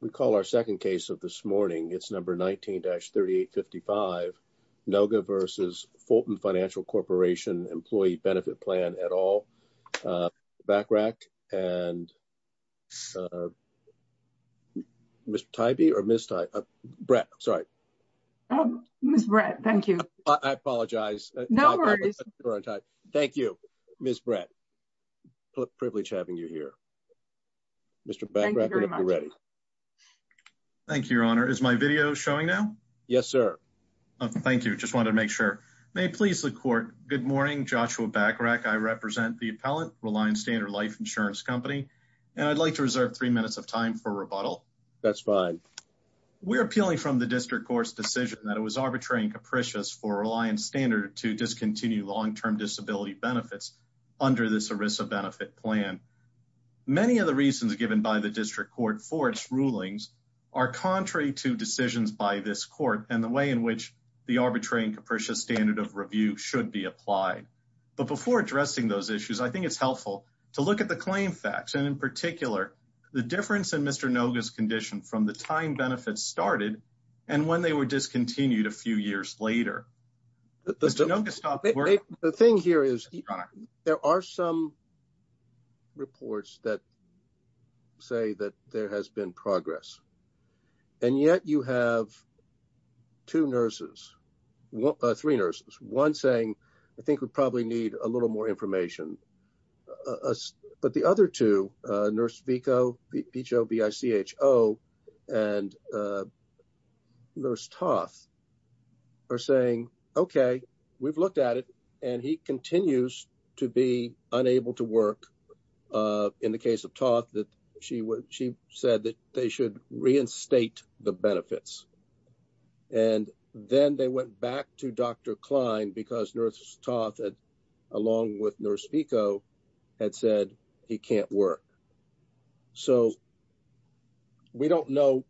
we call our second case of this morning it's number 19-3855 Noga v. Fulton Financial Corporation Employee Benefit Plan et al. Backrack and Mr. Tybee or Ms. Tybee, Brett I'm sorry. Ms. Brett thank you. I apologize. No worries. Thank you Ms. Brett privilege having you here. Mr. Backrack. Thank you very much. Thank you your honor. Is my video showing now? Yes sir. Thank you. Just wanted to make sure. May it please the court. Good morning. Joshua Backrack. I represent the appellant Reliant Standard Life Insurance Company and I'd like to reserve three minutes of time for rebuttal. That's fine. We're appealing from the district court's decision that it was arbitrary and capricious for Reliant Standard to discontinue long-term disability benefits under this ERISA benefit plan. Many of the reasons given by the district court for its rulings are contrary to decisions by this court and the way in which the arbitrary and capricious standard of review should be applied. But before addressing those issues I think it's helpful to look at the claim facts and in particular the difference in Mr. Noga's condition from the time benefits started and when they were discontinued a few years later. Mr. Noga stopped working. The thing here is there are some reports that say that there has been progress and yet you have two nurses, three nurses. One saying I think we probably need a little more information but the other two, Nurse Vico and Nurse Toth are saying okay we've looked at it and he continues to be unable to work. In the case of Toth, she said that they should reinstate the benefits and then they went back to Dr. Klein because Nurse Toth along with Nurse Vico had said he can't work. So we don't know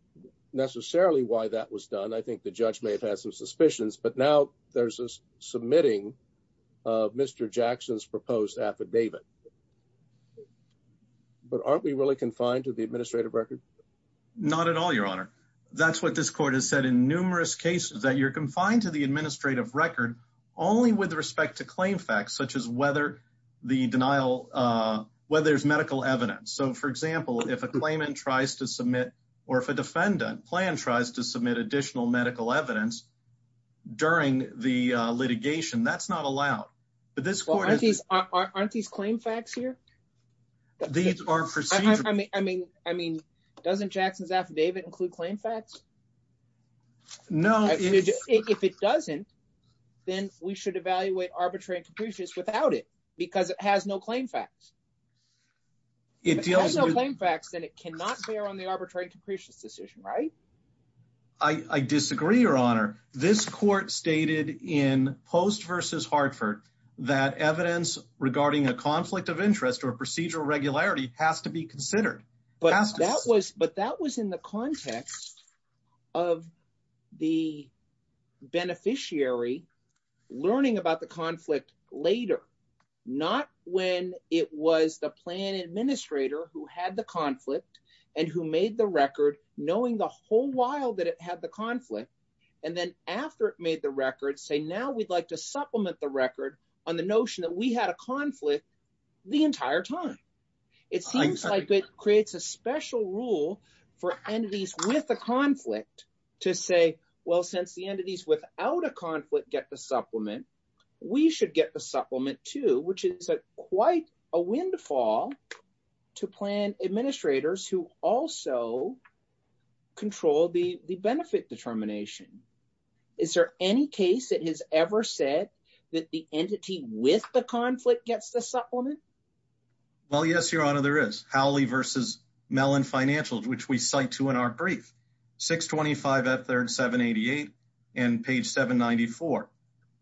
necessarily why that was done. I think the judge may have had some suspicions but now there's a submitting of Mr. Jackson's proposed affidavit. But aren't we really confined to the administrative record? Not at all, that's what this court has said in numerous cases that you're confined to the administrative record only with respect to claim facts such as whether there's medical evidence. So for example if a claimant tries to submit or if a defendant plan tries to submit additional medical evidence during the litigation that's not allowed. Aren't these claim facts here? These are procedural. I mean doesn't Jackson's affidavit include claim facts? No. If it doesn't then we should evaluate arbitrary and capricious without it because it has no claim facts. If it has no claim facts then it cannot bear on the arbitrary and capricious decision, right? I disagree your honor. This court stated in Post v. Hartford that evidence regarding a conflict of interest or procedural regularity has to be considered. But that was in the context of the beneficiary learning about the conflict later. Not when it was the plan administrator who had the conflict and who made the record knowing the whole while that it had the conflict and then after it made the record say now we'd like to supplement the conflict the entire time. It seems like it creates a special rule for entities with a conflict to say well since the entities without a conflict get the supplement we should get the supplement too which is a quite a windfall to plan administrators who also control the benefit determination. Is there any case that has ever said that the entity with the conflict gets the supplement? Well yes your honor there is. Howley v. Mellon financials which we cite to in our brief 625 f 3rd 788 and page 794.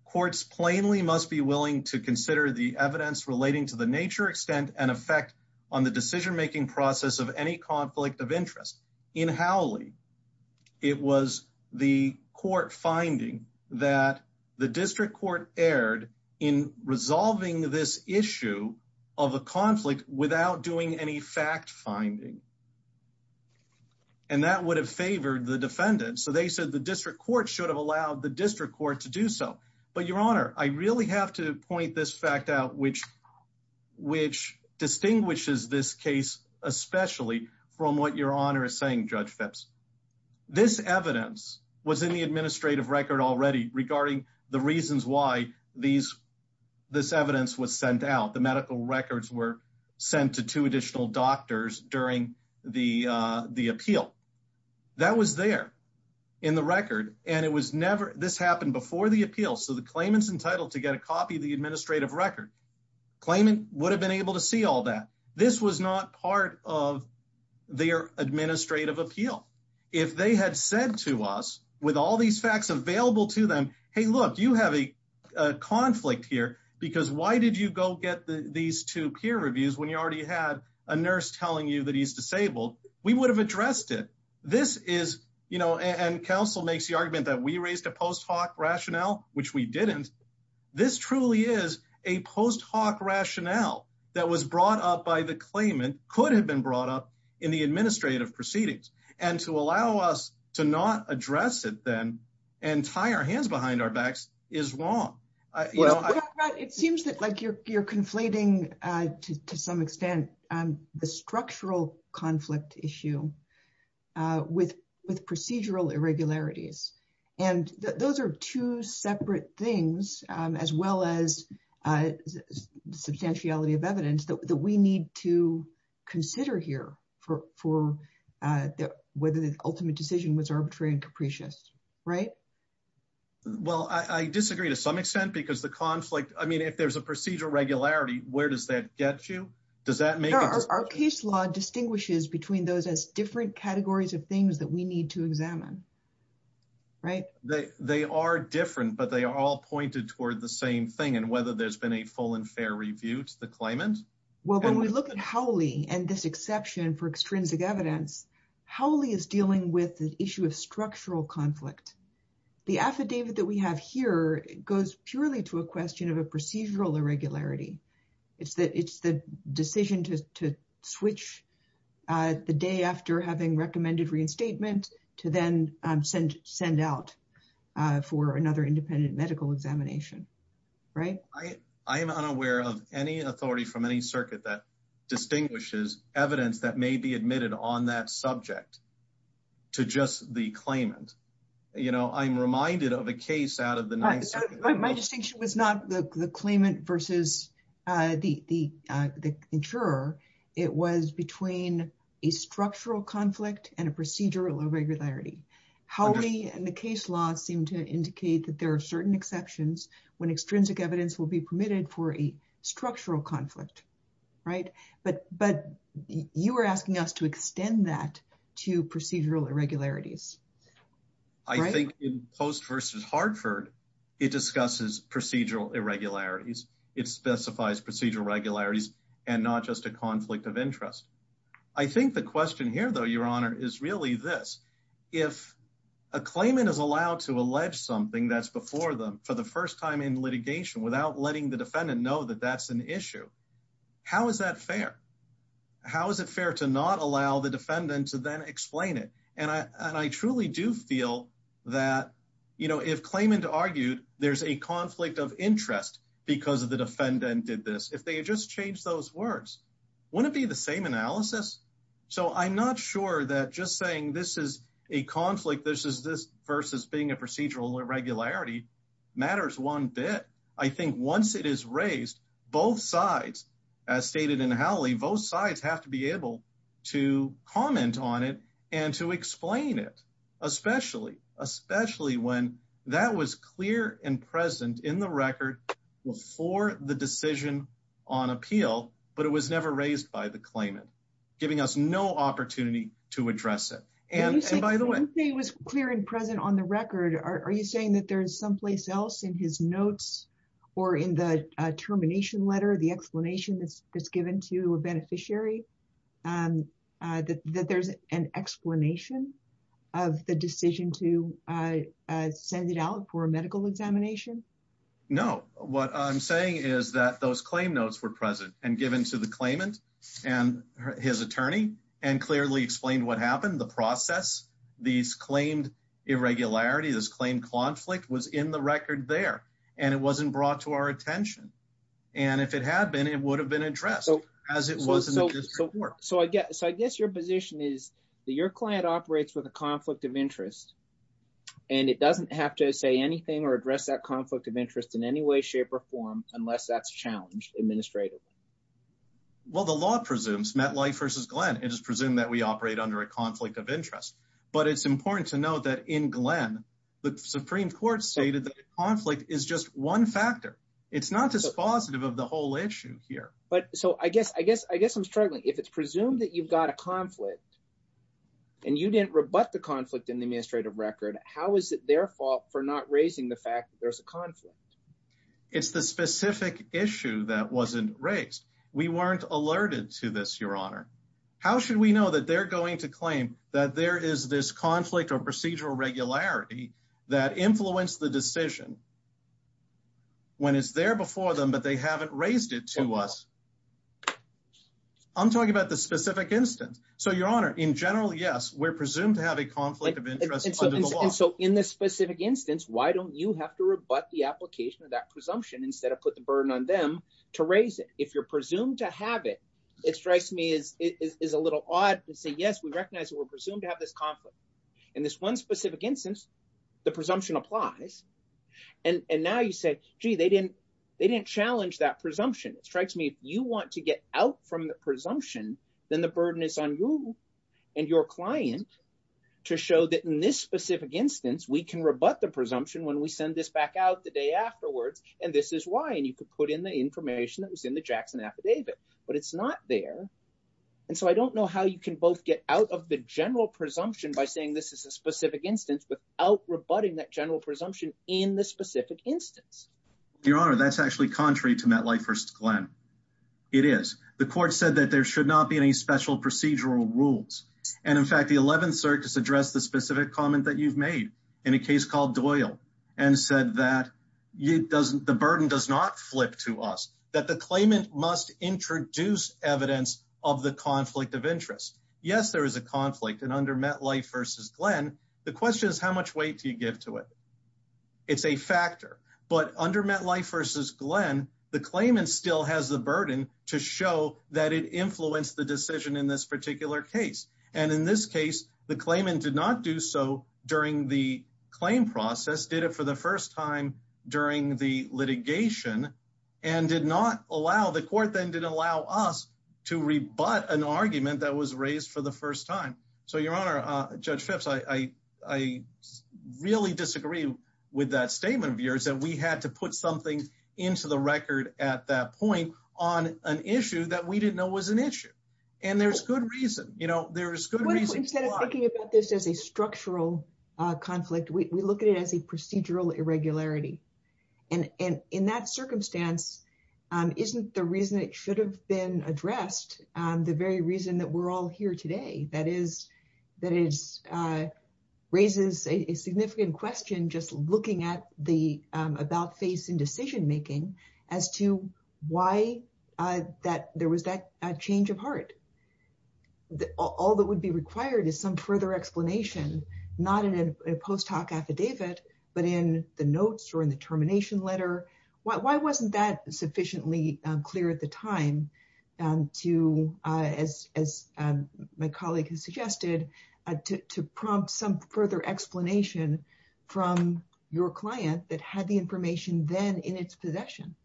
Courts plainly must be willing to consider the evidence relating to the nature extent and effect on the decision making process of any conflict of interest. In Howley it was the court finding that the district court erred in resolving this issue of a conflict without doing any fact finding and that would have favored the defendant. So they said the district court should have allowed the district court to do so. But your honor I really have to point this fact out which which distinguishes this case especially from what your honor is saying judge Phipps. This evidence was in the administrative record already regarding the reasons why these this evidence was sent out. The medical records were sent to two additional doctors during the uh the appeal. That was there in the record and it was never this happened before the appeal so the claimant's entitled to get a copy of the administrative record. Claimant would able to see all that. This was not part of their administrative appeal. If they had said to us with all these facts available to them hey look you have a conflict here because why did you go get the these two peer reviews when you already had a nurse telling you that he's disabled. We would have addressed it. This is you know and counsel makes the argument that we raised a post-hoc rationale that was brought up by the claimant could have been brought up in the administrative proceedings and to allow us to not address it then and tie our hands behind our backs is wrong. Well it seems that like you're you're conflating uh to some extent um the structural conflict issue uh with with procedural irregularities and those are two separate things um as well as uh substantiality of evidence that we need to consider here for for uh whether the ultimate decision was arbitrary and capricious right? Well I disagree to some extent because the conflict I mean if there's a procedural regularity where does that get you? Does that make our case law distinguishes between those as different categories of things that we need to examine right? They they are different but they are all pointed toward the same thing and whether there's been a full and fair review to the claimant. Well when we look at Howley and this exception for extrinsic evidence Howley is dealing with the issue of structural conflict. The affidavit that we have here goes purely to a question of a procedural irregularity. It's the it's the decision to to switch uh the day after having recommended reinstatement to then um send send out uh for another independent medical examination right? I I am unaware of any authority from any circuit that distinguishes evidence that may be admitted on that subject to just the claimant. You know I'm reminded of a case out of the My distinction was not the the claimant versus uh the the uh the insurer. It was between a structural conflict and a procedural irregularity. Howley and the case law seem to indicate that there are certain exceptions when extrinsic evidence will be permitted for a structural conflict right? But but you were asking us to extend that to procedural irregularities. I think in Post versus Hartford it discusses procedural irregularities. It specifies procedural regularities and not just a conflict of interest. I think the question here though your honor is really this. If a claimant is allowed to allege something that's before them for the first time in litigation without letting the defendant know that that's an issue, how is that fair? How is it fair to not allow the defendant to then explain it? And I and I truly do feel that you know if claimant argued there's a conflict of interest because of the defendant did this, if they had just changed those words, wouldn't it be the same analysis? So I'm not sure that just saying this is a conflict, this is this versus being a procedural irregularity matters one bit. I think once it is raised, both sides as stated in Howley, both sides have to be able to comment on it and to explain it. Especially especially when that was clear and present in the record before the decision on appeal but it was never raised by the claimant, giving us no opportunity to address it. And by the way it was clear and present on the record, are you saying that there's someplace else in his notes or in the termination letter, the explanation that's given to a beneficiary, that there's an explanation of the decision to send it out for a medical examination? No, what I'm saying is that those claim notes were present and given to the claimant and his attorney and clearly explained what happened, the process, these claimed irregularities, claimed conflict was in the record there and it wasn't brought to our attention. And if it had been, it would have been addressed as it was. So I guess your position is that your client operates with a conflict of interest and it doesn't have to say anything or address that conflict of interest in any way shape or form unless that's challenged administratively. Well the law presumes MetLife versus Glenn, it is presumed that we operate under a conflict of interest. But it's important to note that in Glenn, the Supreme Court stated that conflict is just one factor. It's not dispositive of the whole issue here. But so I guess I'm struggling. If it's presumed that you've got a conflict and you didn't rebut the conflict in the administrative record, how is it their fault for not raising the fact that there's a conflict? It's the specific issue that wasn't raised. We weren't alerted to this, your honor. How should we know that they're going to claim that there is this conflict or procedural regularity that influenced the decision when it's there before them but they haven't raised it to us? I'm talking about the specific instance. So your honor, in general, yes, we're presumed to have a conflict of interest. And so in this specific instance, why don't you have to rebut the application of that presumption instead of put the burden on them to raise it? If you're presumed to have it, it strikes me as a little odd to say, yes, we recognize that we're presumed to have this conflict. In this one specific instance, the presumption applies. And now you say, gee, they didn't challenge that presumption. It strikes me if you want to get out from the presumption, then the burden is on you and your client to show that in this specific instance, we can rebut the presumption when we send this back out the day afterwards. And this is why. And you could put the information that was in the Jackson affidavit, but it's not there. And so I don't know how you can both get out of the general presumption by saying this is a specific instance without rebutting that general presumption in this specific instance. Your honor, that's actually contrary to MetLife First Glenn. It is. The court said that there should not be any special procedural rules. And in fact, the 11th Circus addressed the specific comment that you've made in a case called Doyle and said that the burden does not flip to us, that the claimant must introduce evidence of the conflict of interest. Yes, there is a conflict. And under MetLife versus Glenn, the question is how much weight do you give to it? It's a factor. But under MetLife versus Glenn, the claimant still has the burden to show that it influenced the decision in this particular case. And in this case, the claimant did not do so during the claim process, did it for the first time during the litigation and did not allow the court then didn't allow us to rebut an argument that was raised for the first time. So your honor, Judge Phipps, I really disagree with that statement of yours that we had to put something into the record at that point on an issue that we didn't know was an issue. And there's good reason, you know, there is good reason. Instead of thinking about this as a structural conflict, we look at it as a procedural irregularity. And in that circumstance, isn't the reason it should have been addressed, the very reason that we're all here today, that is, that is, raises a significant question, just looking at the about face in decision making as to why that there was that change of heart. All that would be required is some further explanation, not in a post hoc affidavit, but in the notes or in the termination letter. Why wasn't that sufficiently clear at the time to, as my colleague has suggested, to prompt some further explanation from your client that had the information then in its possession?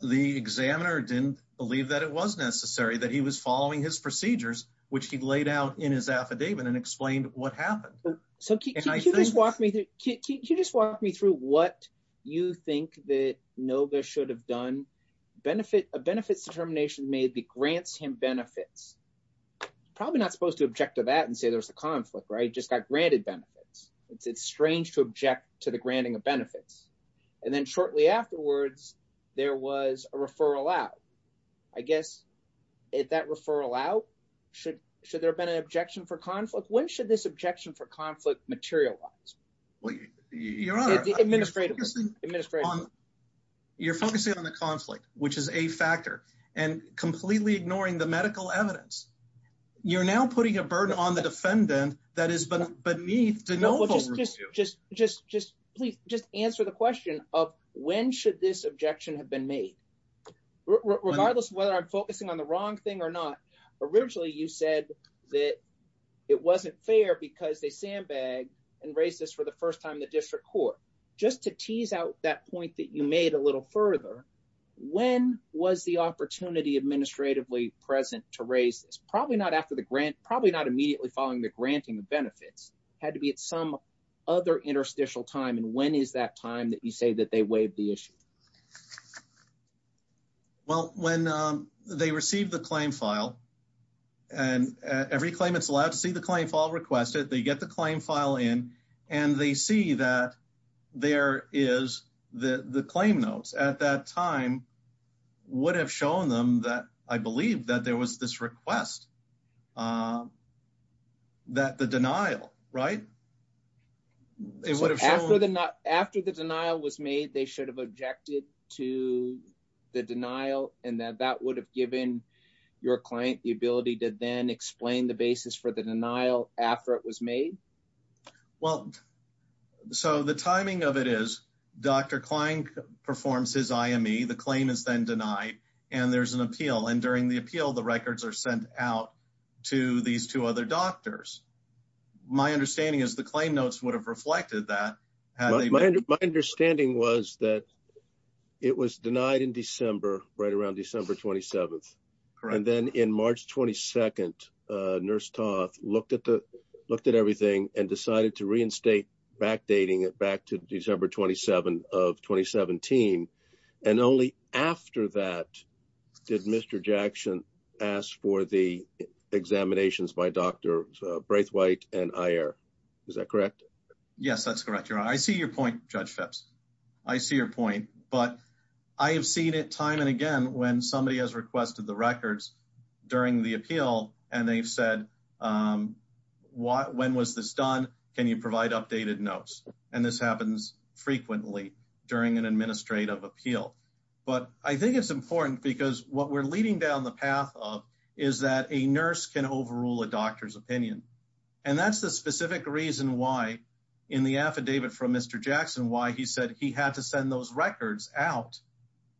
The examiner didn't believe that it was necessary that he was following his procedures, which he laid out in his affidavit and explained what happened. So can you just walk me through, can you just walk me through what you think that Noga should have done? A benefits determination may be grants him benefits. Probably not supposed to object to that and say there's a conflict, right? Just got granted benefits. It's strange to object to the granting of benefits. And then shortly afterwards, there was a referral out. I guess at that referral out, should there have been an objection for the conflict to materialize? Your Honor, you're focusing on the conflict, which is a factor, and completely ignoring the medical evidence. You're now putting a burden on the defendant that is beneath to know. Just answer the question of when should this objection have been made? Regardless of whether I'm focusing on the wrong thing or not, originally you said that it wasn't and raised this for the first time in the district court. Just to tease out that point that you made a little further, when was the opportunity administratively present to raise this? Probably not immediately following the granting of benefits. Had to be at some other interstitial time, and when is that time that you say that they waived the issue? Well, when they received the claim file, and every claimant's allowed to see the claim file requested, they get the claim file in, and they see that there is the claim notes. At that time, would have shown them that I believe that there was this request, that the denial, right? After the denial was made, they should have objected to the denial, and that would have given your client the ability to then explain the basis for the denial after it was made? Well, so the timing of it is Dr. Klein performs his IME. The claim is then denied, and there's an appeal, and during the appeal, the records are sent out to these two other doctors. My understanding is the claim notes would have reflected that. My understanding was that it was denied in December, right around December 27th, and then in March 22nd, Nurse Toth looked at everything and decided to reinstate backdating it back to December 27th of 2017, and only after that did Mr. Jackson ask for the examinations by Dr. Braithwaite and Ayer. Is that correct? Yes, that's correct. You're right. I see your point, Judge Phipps. I see your point, but I have seen it time and again when somebody has requested the records during the appeal, and they've said, when was this done? Can you provide updated notes? And this happens frequently during an administrative appeal, but I think it's important because what we're leading down the path of is that a nurse can overrule a doctor's opinion, and that's the specific reason in the affidavit from Mr. Jackson why he said he had to send those records out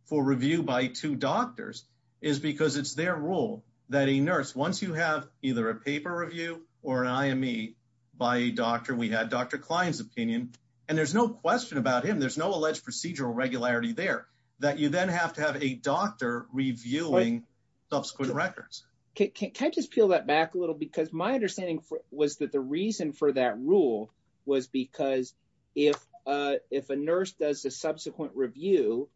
for review by two doctors is because it's their rule that a nurse, once you have either a paper review or an IME by a doctor, we had Dr. Klein's opinion, and there's no question about him. There's no alleged procedural regularity there that you then have to have a doctor reviewing subsequent records. Can I just peel that back a little? Because my understanding was that the reason for that rule was because if a nurse does a subsequent review,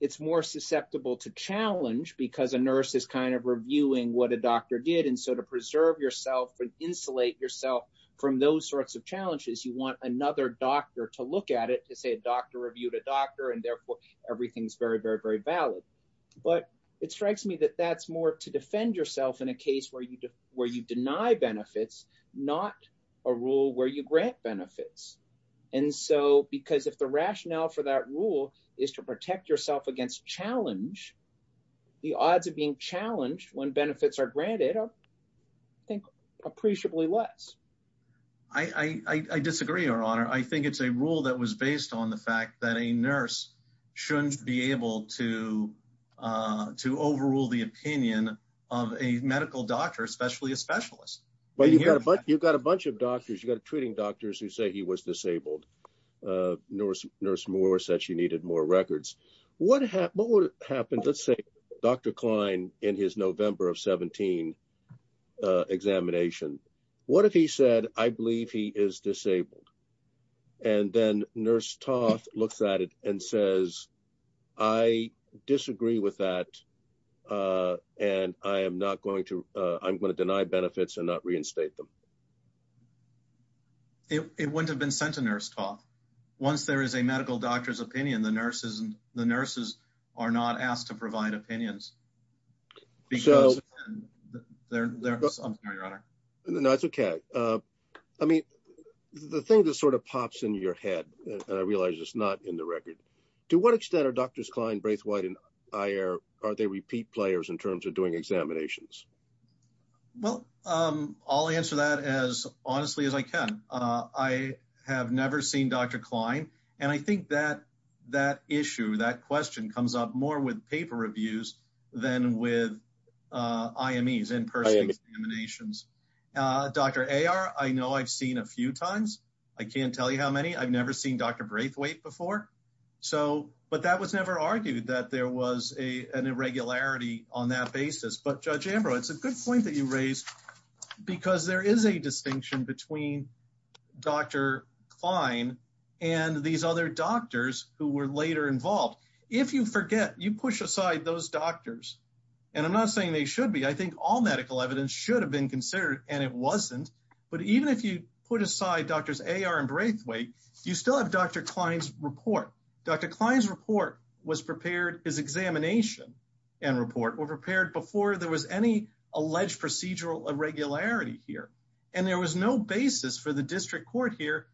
it's more susceptible to challenge because a nurse is kind of reviewing what a doctor did, and so to preserve yourself and insulate yourself from those sorts of challenges, you want another doctor to look at it to say a doctor reviewed a doctor, and therefore everything's very, very, very valid. But it strikes me that that's more to defend yourself in a case where you deny benefits, not a rule where you grant benefits, and so because if the rationale for that rule is to protect yourself against challenge, the odds of being challenged when benefits are granted are, I think, appreciably less. I disagree, Your Honor. I think it's a rule that was based on the fact that a nurse shouldn't be able to overrule the opinion of a medical doctor, especially a specialist. But you've got a bunch of doctors. You've got treating doctors who say he was disabled. Nurse Moore said she needed more records. What would happen, let's say, Dr. Klein, in his November of 17 examination? What if he said, I believe he is disabled? And then Nurse Toth looks at it and says, I disagree with that, and I'm going to deny benefits and not reinstate them. It wouldn't have been sent to Nurse Toth. Once there is a medical doctor's opinion, the nurses are not asked to provide opinions. I'm sorry, Your Honor. No, it's okay. I mean, the thing that sort of pops in your head, and I realize it's not in the record, to what extent are Drs. Klein, Braithwaite, and Ayer, are they repeat players in terms of doing examinations? Well, I'll answer that as honestly as I can. I have never seen Dr. Klein, and I think that issue, that question comes up more with paper reviews than with IMEs, in-person examinations. Dr. Ayer, I know I've seen a few times. I can't tell you how many. I've never seen Dr. Braithwaite before, but that was never argued that there was an irregularity on that basis. But Judge Ambrose, it's a good point that you raised because there is a distinction between Dr. Klein and these other doctors who were later involved. If you forget, you push aside those doctors, and I'm not saying they should be. I think all medical evidence should have been considered, and it wasn't. But even if you put aside Drs. Ayer and Braithwaite, you still have Dr. Klein's report. Dr. Klein's report was prepared, his examination and report were prepared before there was any alleged procedural irregularity here, and there was no basis for the district court here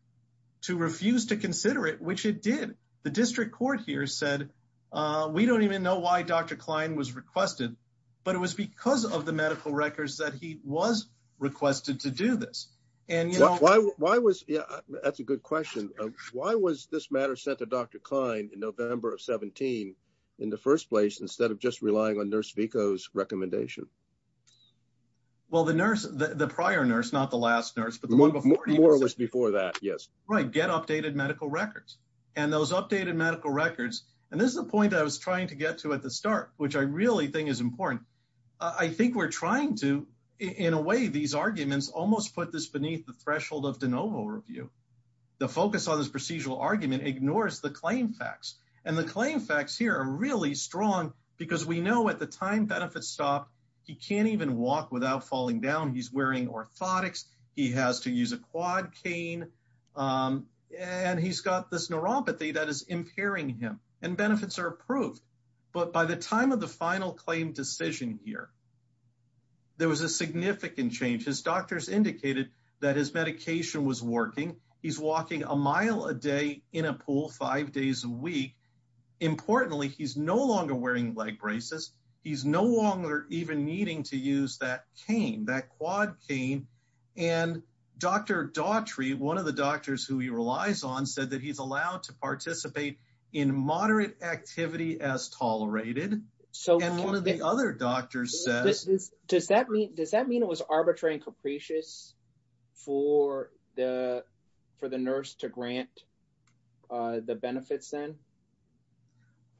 to refuse to consider it, which it did. The district court here said, we don't even know why Dr. Klein was requested, but it was because of the medical records that he was requested to do this. And, you know- Why was, yeah, that's a good question. Why was this matter sent to Dr. Klein in November of 17 in the first place instead of just relying on Nurse Vico's recommendation? Well, the nurse, the prior nurse, not the last nurse, but the one before- More was before that, yes. Right. Get updated medical records. And those updated medical records, and this is the point that I was trying to get to at the start, which I really think is important. I think we're trying to, in a way, these arguments almost put this beneath the threshold of de novo review. The focus on this procedural argument ignores the claim facts, and the claim facts here are really strong because we know at the time benefits stopped, he can't even walk without falling down. He's wearing orthotics. He has to use a quad cane, and he's got this neuropathy that is impairing him, and benefits are approved. But by the time of the final claim decision here, there was a significant change. His doctors indicated that his medication was working. He's walking a mile a day in a pool five days a week. Importantly, he's no longer wearing leg braces. He's no longer even needing to use that cane, that quad cane. And Dr. Daughtry, one of the doctors who he relies on, said that he's allowed to participate in moderate activity as tolerated. And one of the other doctors says- Does that mean it was arbitrary and capricious for the nurse to grant the benefits then?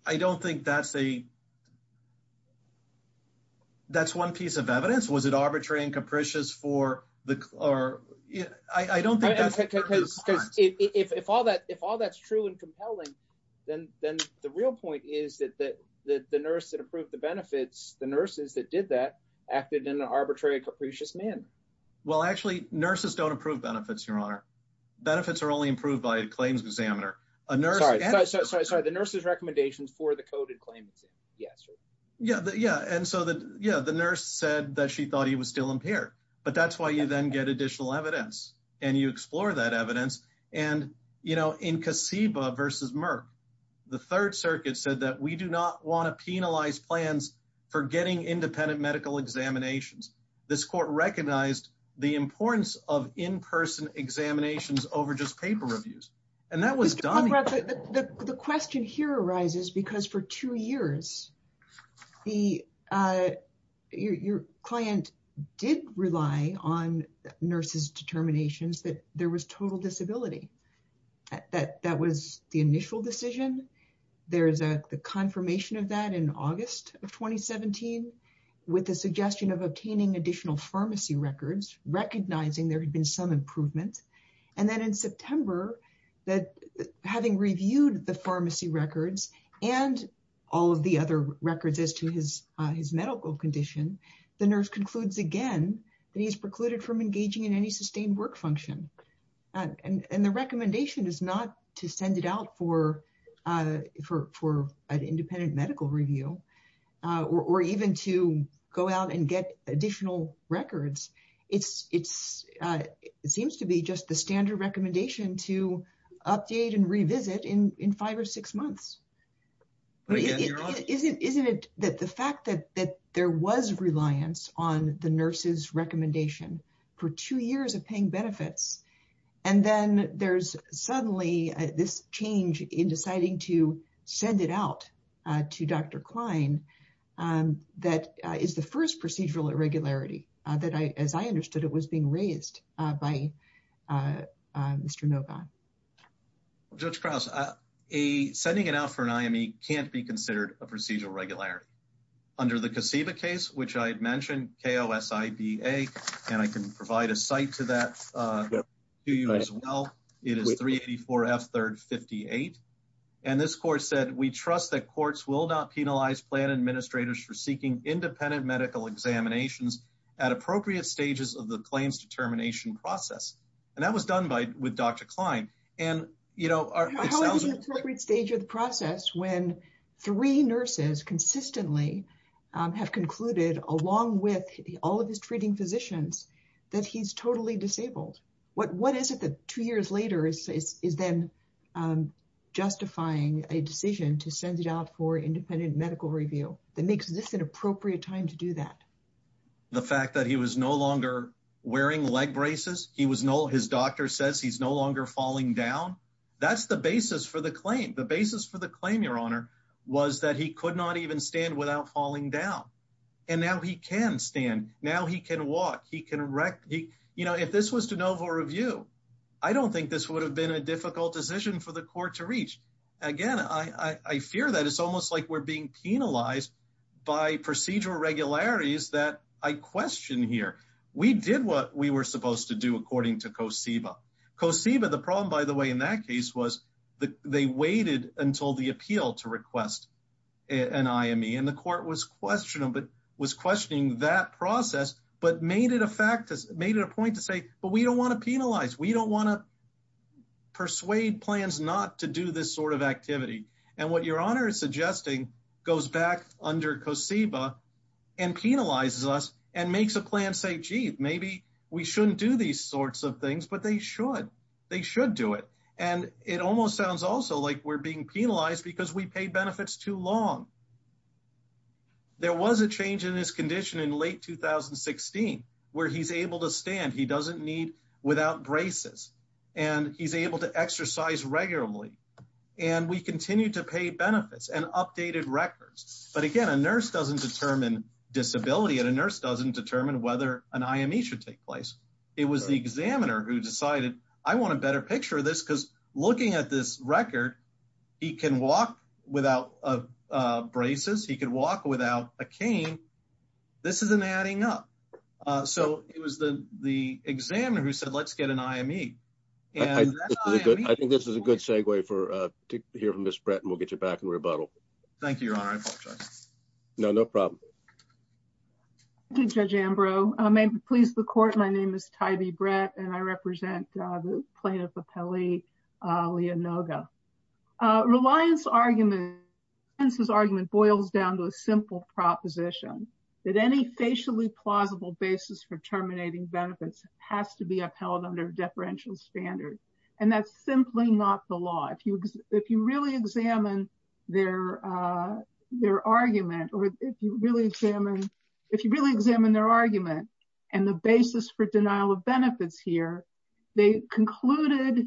I don't think that's one piece of evidence. Was it arbitrary and capricious for the- I don't think that's- Because if all that's true and compelling, then the real point is that the nurse that approved the benefits, the nurses that did that, acted in an arbitrary and capricious manner. Well, actually, nurses don't approve benefits, Your Honor. Benefits are only approved by a claims examiner. A nurse- Sorry, the nurse's recommendations for the coded claim. Yes, sir. Yeah, and so the nurse said that she thought he was still impaired. But that's why you then get additional evidence, and you explore that evidence. And in Kaseba versus Merck, the Third Circuit said that we do not want to penalize plans for getting independent medical examinations. This court recognized the importance of in-person examinations over just paper reviews. And that was done- Mr. Conrad, the question here arises because for two years, your client did rely on nurses' determinations that there was total improvement. And then in September, having reviewed the pharmacy records and all of the other records as to his medical condition, the nurse concludes again that he's precluded from engaging in any sustained work function. And the recommendation is not to send it out for an independent medical review or even to go out and get additional records. It seems to be just the standard recommendation to update and revisit in five or six months. Isn't it that the fact that there was reliance on the nurse's recommendation for two years of paying benefits, and then there's suddenly this change in deciding to send it out to Dr. Klein, that is the first procedural irregularity that, as I understood it, was being raised by Mr. Novon. Judge Krause, sending it out for an IME can't be considered a procedural regularity. Under the Kaseba case, which I 58, and this court said, we trust that courts will not penalize plan administrators for seeking independent medical examinations at appropriate stages of the claims determination process. And that was done by with Dr. Klein. And, you know, it sounds like every stage of the process, when three nurses consistently have concluded, along with all of his treating physicians, that he's totally disabled. What is it that two years later is then justifying a decision to send it out for independent medical review that makes this an appropriate time to do that? The fact that he was no longer wearing leg braces, he was no, his doctor says he's no longer falling down. That's the basis for the claim. The basis for the claim, Your Honor, was that he could not even stand without falling down. And now he can stand, now he can walk, he can rec, he, you know, if this was de novo review, I don't think this would have been a difficult decision for the court to reach. Again, I fear that it's almost like we're being penalized by procedural regularities that I question here. We did what we were supposed to do, according to Kaseba. Kaseba, the problem, by the way, in that case, was that they waited until the appeal to request an IME. And the court was questioning that process, but made it a point to say, but we don't want to penalize, we don't want to persuade plans not to do this sort of activity. And what Your Honor is suggesting goes back under Kaseba and penalizes us and makes a plan to say, gee, maybe we shouldn't do these sorts of things, but they should. They should do it. And it almost sounds also like we're being penalized because we paid benefits too long. There was a change in his condition in late 2016, where he's able to stand, he doesn't need without braces, and he's able to exercise regularly. And we continue to pay benefits and updated records. But again, a nurse doesn't determine disability and a nurse doesn't determine whether an IME should take place. It was the examiner who decided, I want a better picture of this because looking at this record, he can walk without braces, he can walk without a cane. This isn't adding up. So it was the examiner who said, let's get an IME. And I think this is a good segue for to hear from Judge Brett and we'll get you back in rebuttal. Thank you, Your Honor. I apologize. No, no problem. Thank you, Judge Ambrose. May it please the court, my name is Tybee Brett and I represent the plaintiff appellee, Leah Noga. Reliance's argument boils down to a simple proposition that any facially plausible basis for terminating benefits has to be upheld under deferential standards. And that's simply not the law. If you, if you really examine their, their argument, or if you really examine, if you really examine their argument, and the basis for denial of benefits here, they concluded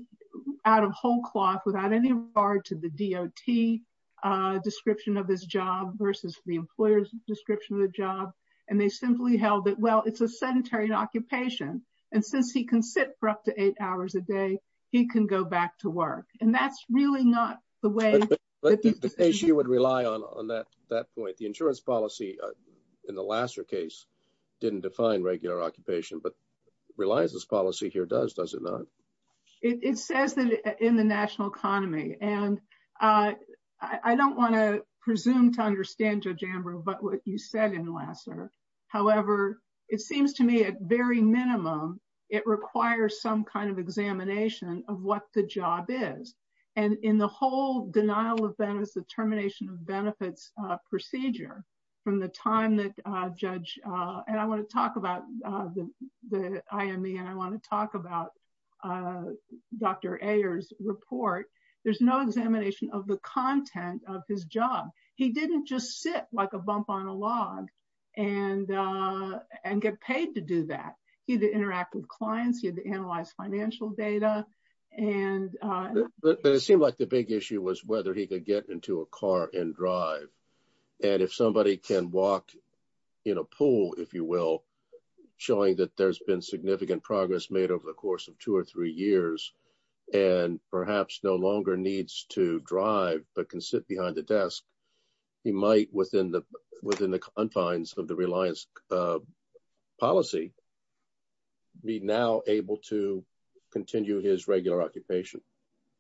out of whole cloth without any regard to the DOT description of his job versus the employer's description of the job. And they simply held that, well, it's a sedentary occupation. And since he can sit for up to eight hours a day, he can go back to work. And that's really not the way. But the issue would rely on, on that, that point, the insurance policy in the Lasser case, didn't define regular occupation, but reliance's policy here does, does it not? It says that in the national economy, and I don't want to presume to understand, but what you said in Lasser, however, it seems to me at very minimum, it requires some kind of examination of what the job is. And in the whole denial of benefits, the termination of benefits procedure from the time that judge, and I want to talk about the, the IME, and I want to talk about Dr. Ayers report, there's no examination of the content of his job. He didn't just sit like a bump on a log and, and get paid to do that. He had to interact with clients, he had to analyze financial data. And, but it seemed like the big issue was whether he could get into a car and drive. And if somebody can walk in a pool, if you will, showing that there's been significant progress made over the course of two or three years, and perhaps no longer needs to drive, but can sit behind the desk, he might within the, within the confines of the reliance policy, be now able to continue his regular occupation.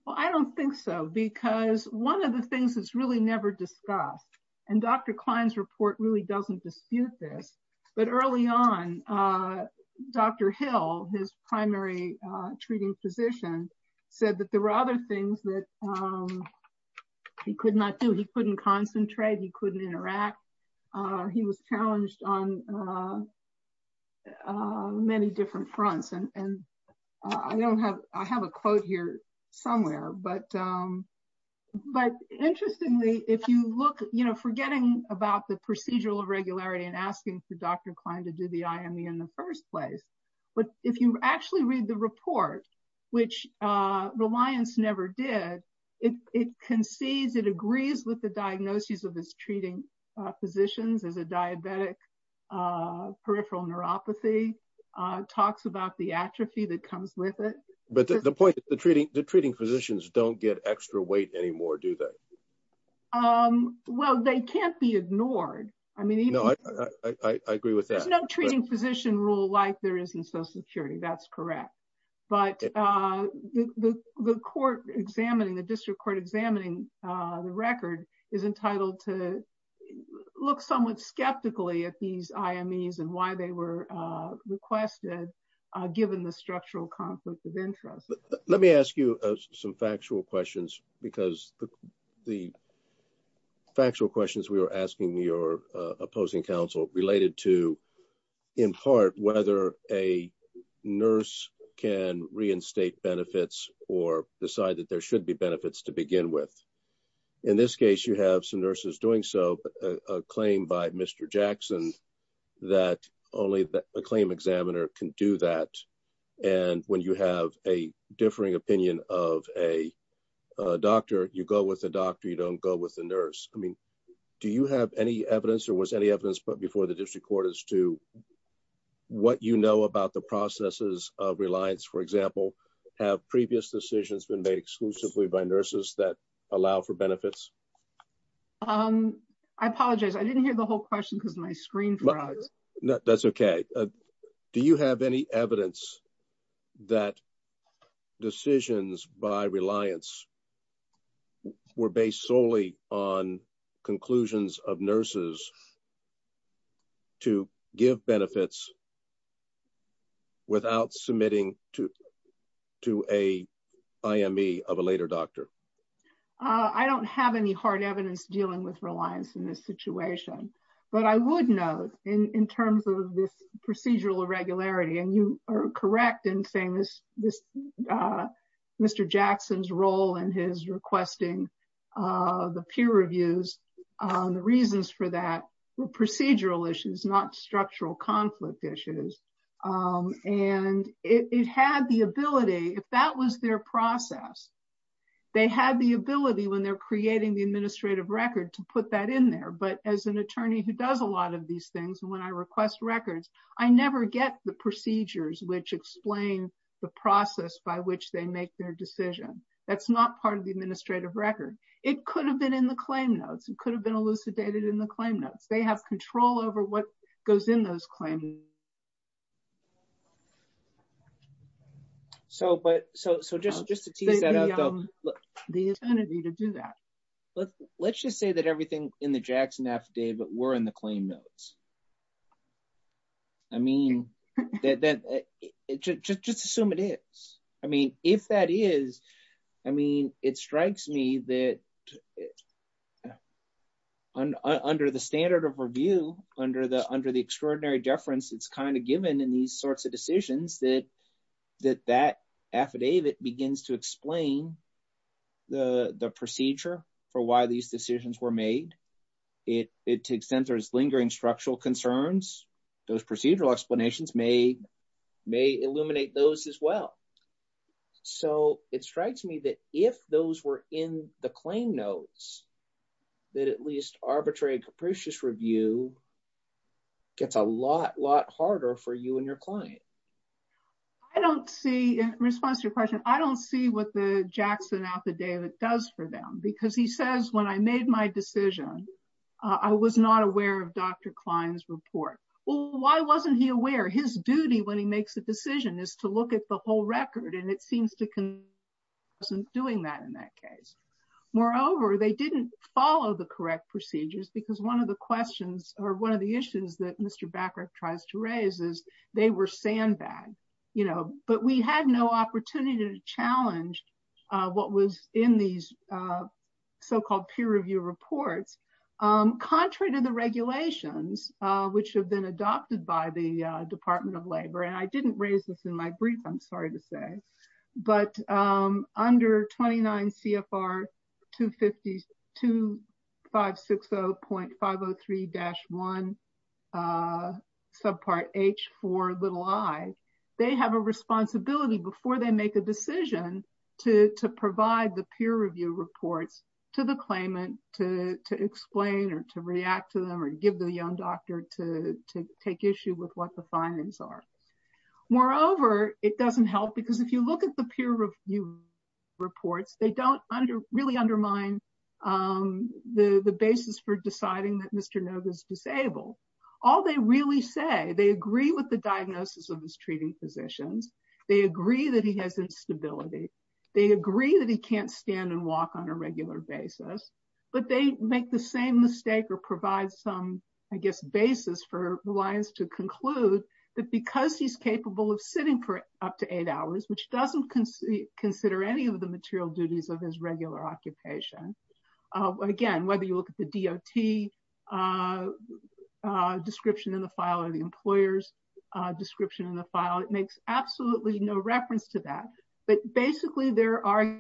Well, I don't think so. Because one of the things that's really never discussed, and Dr. Klein's report really doesn't dispute this. But early on, Dr. Hill, his primary treating physician said that there were other things that he could not do, he couldn't concentrate, he couldn't interact. He was challenged on many different fronts. And I don't have, I have a quote here somewhere. But, but interestingly, if you look, you know, forgetting about the procedural irregularity and asking for Dr. Klein to do the IME in the first place, but if you actually read the report, which reliance never did, it concedes it agrees with the diagnoses of this treating physicians as a diabetic, peripheral neuropathy talks about the atrophy that comes with it. But the point is, the treating the treating physicians don't get extra weight anymore, do they? Um, well, they can't be ignored. I mean, no, I agree with that treating physician rule like there isn't social security. That's correct. But the court examining the district court examining the record is entitled to look somewhat skeptically at these IMEs and why they were requested, given the structural conflict of interest. Let me ask you some factual questions, because the factual questions we were asking your opposing counsel related to, in part, whether a nurse can reinstate benefits or decide that there should be benefits to begin with. In this case, you have some nurses doing so, a claim by Mr. Jackson, that only the claim examiner can do that. And when you have a differing opinion of a doctor, you go with the doctor, you don't go with the nurse. I mean, do you have any evidence or was any evidence put before the district court as to what you know about the processes of reliance, for example, have previous decisions been made exclusively by nurses that allow for benefits? I apologize. I didn't hear the whole question because my screen froze. That's okay. Do you have any evidence that decisions by reliance were based solely on conclusions of nurses to give benefits without submitting to a IME of a later doctor? I don't have any hard evidence dealing with reliance in this situation. But I would note in terms of this procedural irregularity, and you are correct in saying this, Mr. Jackson's role in his requesting the peer reviews, the reasons for that were procedural issues, not structural conflict issues. And it had the ability if that was their process, they had the ability when they're creating the administrative record to put that in there. But as an attorney who does a lot of these things, when I request records, I never get the procedures which explain the process by which they make their decision. That's not part of the administrative record. It could have been in the claim notes. It could have been elucidated in the claim notes. They have control over what goes in those claims. So just to tease that out though, let's just say that everything in the Jackson affidavit were in the claim notes. I mean, just assume it is. I mean, if that is, I mean, it strikes me that under the standard of review, under the extraordinary deference, it's kind of given in these sorts of decisions that that affidavit begins to explain the procedure for why these structural concerns, those procedural explanations may illuminate those as well. So it strikes me that if those were in the claim notes, that at least arbitrary and capricious review gets a lot, lot harder for you and your client. I don't see, in response to your question, I don't see what the Jackson affidavit does for them because he says, when I made my decision, I was not aware of Dr. Klein's report. Well, why wasn't he aware? His duty when he makes a decision is to look at the whole record. And it seems to him he wasn't doing that in that case. Moreover, they didn't follow the correct procedures because one of the questions or one of the issues that Mr. Baccarat tries to raise is they were sandbagged, you know, but we had no opportunity to challenge what was in these so-called peer review reports. Contrary to the regulations, which have been adopted by the Department of Labor, and I didn't raise this in my brief, I'm sorry to say, but under 29 CFR 2560.503-1 subpart H for little i, they have a responsibility before they make a decision to provide the peer review reports to the claimant to explain or to react to them or give the young doctor to take issue with what the findings are. Moreover, it doesn't help because if you look at the peer review reports, they don't really undermine the basis for deciding that Mr. Noga is disabled. All they really say, they agree with the diagnosis of his treating physicians, they agree that he has instability, they agree that he can't stand and walk on a regular basis, but they make the same mistake or provide some, I guess, basis for reliance to conclude that because he's capable of sitting for up to eight hours, which doesn't consider any of the material duties of his regular occupation. Again, whether you look at the DOT description in the file or the employer's description in the file, it makes absolutely no reference to that. But basically, there are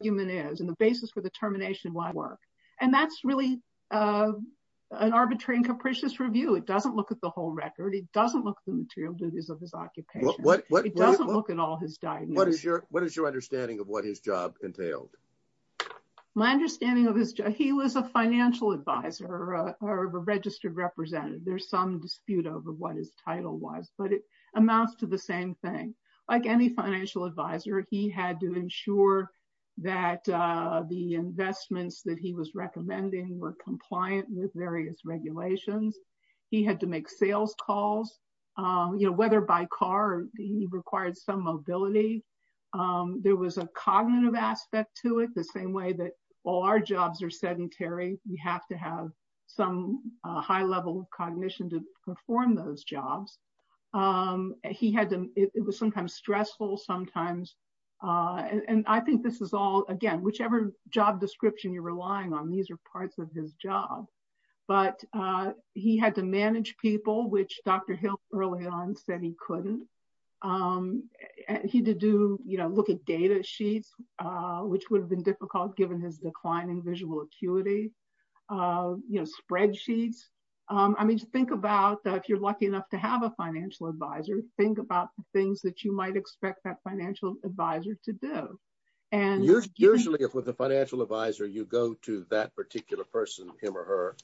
human is and the basis for the termination of my work. And that's really an arbitrary and capricious review. It doesn't look at the whole record. It doesn't look at the material duties of his occupation. It doesn't look at all his diagnosis. What is your understanding of what his job entailed? My understanding of his job, he was a financial advisor or a registered representative. There's some dispute over what his title was, but it amounts to the same thing. Like any financial advisor, he had to ensure that the investments that he was recommending were compliant with various regulations. He had to make sales calls, whether by car, he required some mobility. There was a cognitive aspect to it, the same way that all our jobs are sedentary, we have to have some high level cognition to perform those jobs. He had to, it was sometimes stressful sometimes. And I think this is all again, whichever job description you're relying on, these are parts of his job. But he had to manage people, which Dr. Hill early on said he couldn't. And he did do, look at data sheets, which would have been difficult given his declining visual acuity, spreadsheets. I mean, think about if you're lucky enough to have a financial advisor, think about the things that you might expect that financial advisor to do. And usually if with a financial advisor, you go to that particular person, him or her,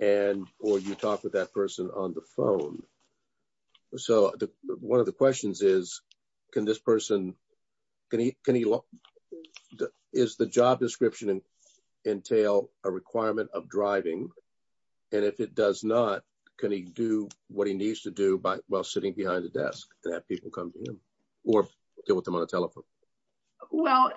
and or you talk with that person on the phone. So one of the questions is, can this person, is the job description entail a requirement of driving? And if it does not, can he do what he needs to do by while sitting behind the desk that people come to him or deal with them on a telephone? Well,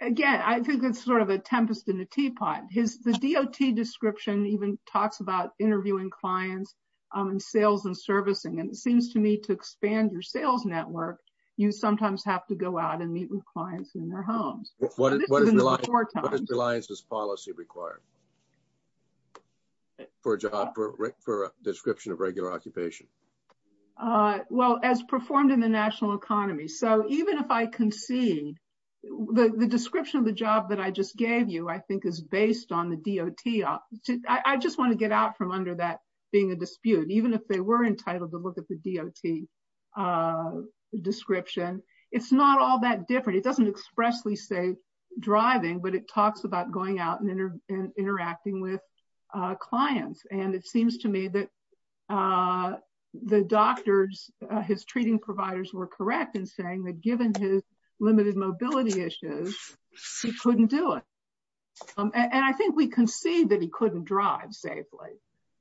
again, I think it's sort of a tempest in a teapot. The DOT description even talks about interviewing clients in sales and servicing. And it seems to me to expand your sales network, you sometimes have to go out and meet with clients in their homes. What is reliance's policy required for a job, for a description of regular occupation? Uh, well, as performed in the national economy. So even if I concede the description of the job that I just gave you, I think is based on the DOT. I just want to get out from under that being a dispute, even if they were entitled to look at the DOT description. It's not all that different. It doesn't expressly say driving, but it talks about going out and interacting with clients. And it seems to me that the doctors, his treating providers were correct in saying that given his limited mobility issues, he couldn't do it. And I think we can see that he couldn't drive safely.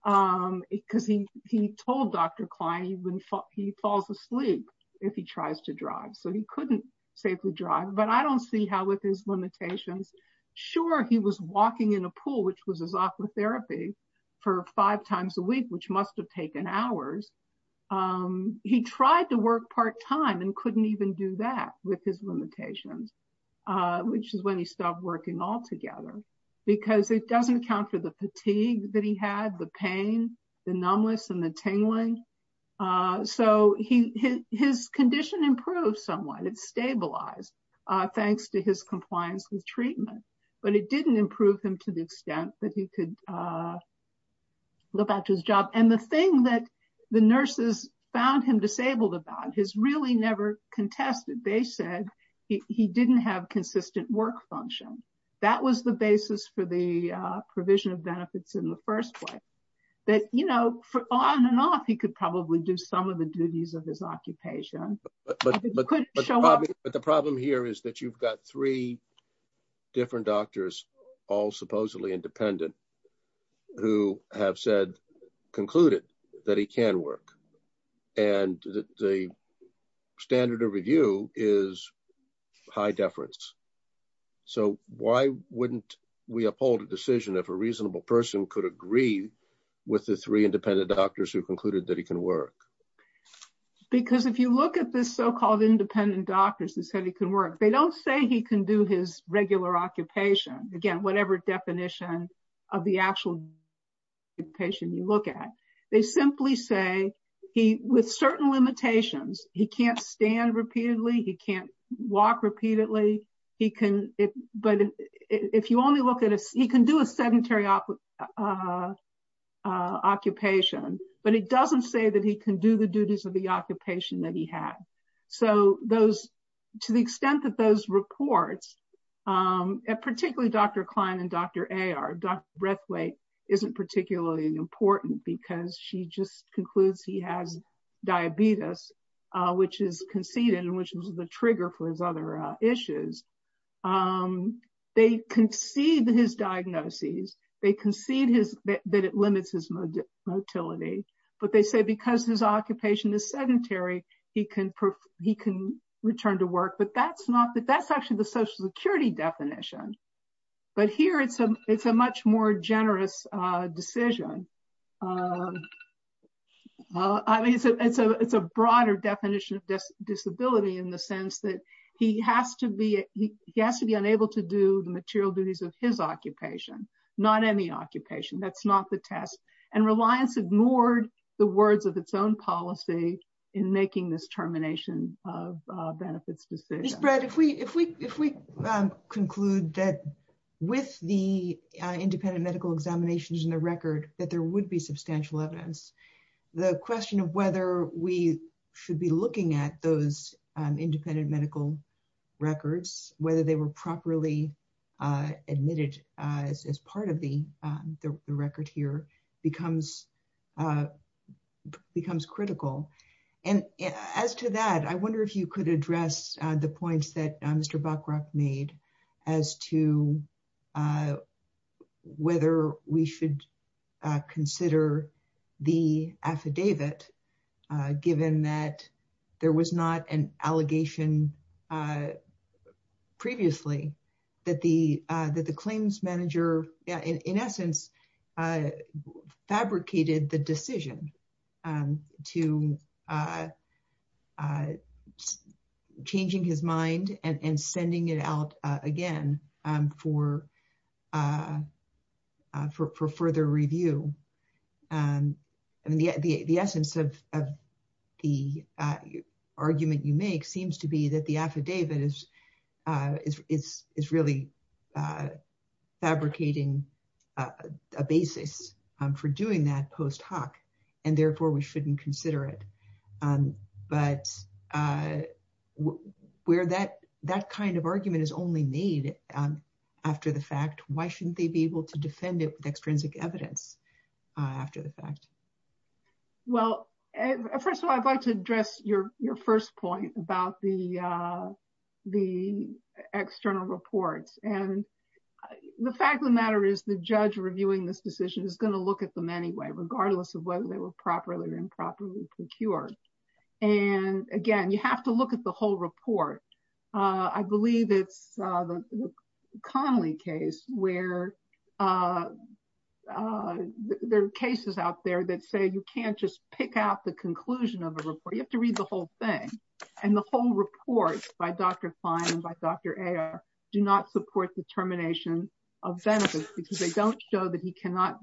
Because he, he told Dr. Klein when he falls asleep, if he tries to drive, so he couldn't safely drive. But I don't see how with his limitations. Sure, he was walking in a pool, which was his aqua therapy for five times a week, which must've taken hours. Um, he tried to work part time and couldn't even do that with his limitations. Uh, which is when he stopped working altogether because it doesn't account for the fatigue that he had the pain, the numbness and the tingling. Uh, so he, his condition improved somewhat. It's stabilized, uh, thanks to his that he could, uh, look back to his job. And the thing that the nurses found him disabled about his really never contested, they said he didn't have consistent work function. That was the basis for the, uh, provision of benefits in the first place that, you know, for on and off, he could probably do some of the duties of his occupation, but the problem here is that you've got three different doctors, all supposedly independent who have said, concluded that he can work. And the standard of review is high deference. So why wouldn't we uphold a decision if a reasonable person could agree with the three independent doctors who concluded that he can work? Because if you look at this so-called independent doctors and said he can work, they don't say he can do his regular occupation. Again, whatever definition of the actual patient you look at, they simply say he with certain limitations, he can't stand repeatedly. He can't walk repeatedly. He can, but if you only look at us, he can do a sedentary occupation, but it doesn't say that he can do the duties of the occupation that he had. So those, to the extent that those reports, particularly Dr. Klein and Dr. Ayer, Dr. Breathwaite isn't particularly important because she just concludes he has diabetes, which is conceded and which was the trigger for his other issues. They concede his diagnoses. They concede that it limits his motility, but they say because his occupation is sedentary, he can return to work, but that's not, that's actually the social security definition. But here it's a much more generous decision. I mean, it's a broader definition of disability in the sense that he has to be, he has to be unable to do the material duties of his occupation, not any occupation. That's not the test. And Reliance ignored the words of its own policy in making this termination of benefits decision. Ms. Brett, if we conclude that with the independent medical examinations in the record, that there would be substantial evidence, the question of whether we should be looking at those independent medical records, whether they were properly admitted as part of the record here, becomes critical. And as to that, I wonder if you could address the points that Mr. Buckrock made as to whether we should consider the affidavit, given that there was not an allegation previously that the claims manager, in essence, fabricated the decision to changing his mind and sending it out again for further review. And the essence of the argument you make seems to be that the affidavit is really fabricating a basis for doing that post hoc, and therefore we shouldn't consider it. But where that kind of argument is only made after the fact, why shouldn't they be able to after the fact? Well, first of all, I'd like to address your first point about the external reports. And the fact of the matter is the judge reviewing this decision is going to look at them anyway, regardless of whether they were properly or improperly procured. And again, you have to look at the whole report. I believe it's the Connolly case where there are cases out there that say you can't just pick out the conclusion of a report, you have to read the whole thing. And the whole report by Dr. Klein and by Dr. Ayer do not support the termination of benefits, because they don't show that he cannot,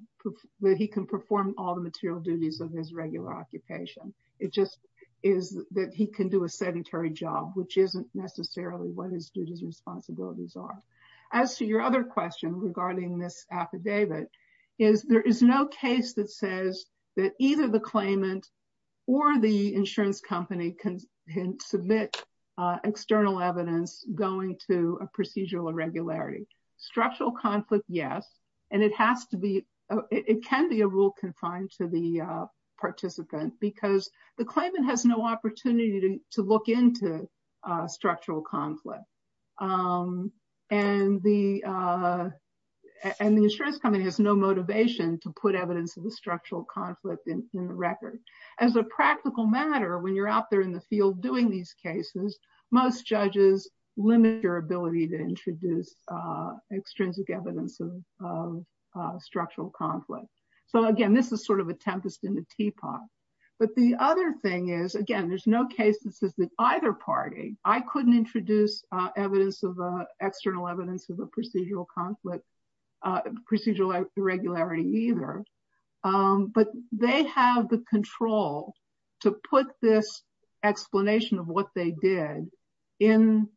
that he can perform all the material duties of his regular occupation. It just is that he can do a sedentary job, which isn't necessarily what his duties and responsibilities are. As to your other question regarding this affidavit, is there is no case that says that either the claimant or the insurance company can submit external evidence going to a procedural irregularity. Structural conflict, yes. And it has to be, it can be a rule confined to the participant because the claimant has no opportunity to look into structural conflict. And the insurance company has no motivation to put evidence of the structural conflict in the record. As a practical matter, when you're out there in the field doing these cases, most judges limit your ability to introduce extrinsic evidence of structural conflict. So again, this is sort of a tempest in the teapot. But the other thing is, again, there's no case that says that either party, I couldn't introduce evidence of external evidence of a procedural conflict, procedural irregularity either. But they have the control to put this explanation of what they did in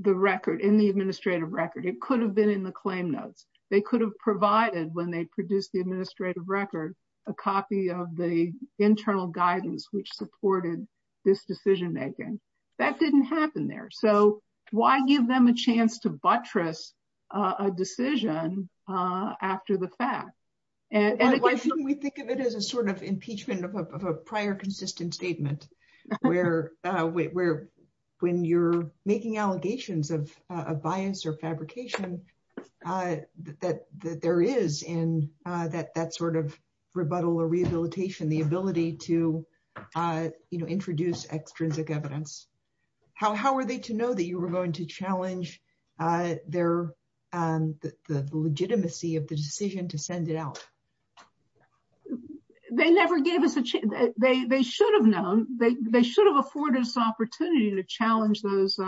the record, in the administrative record, it could have been in the claim notes, they could have provided when they produce the administrative record, a copy of the internal guidance, which supported this decision making. That didn't happen there. So why give them a chance to buttress a decision after the fact? And we think of it as a sort of impeachment of a prior consistent statement, where we're, when you're making allegations of bias or fabrication, that there is in that sort of rebuttal or rehabilitation, the ability to introduce extrinsic evidence. How are they to know that you were going to challenge their legitimacy of the decision to send it out? They never gave us a chance. They should have known, they should have afforded us the opportunity to challenge those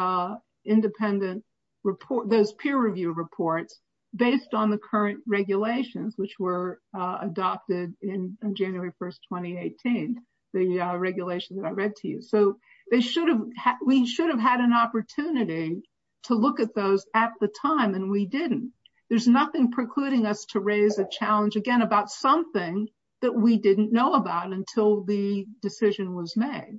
independent report, those peer review reports, based on the current regulations, which were adopted in January 1, 2018, the regulation that I read to you. So they should have, we should have had an opportunity to look at those at the time, and we didn't. There's nothing precluding us to raise a challenge again, about something that we didn't know about until the decision was made.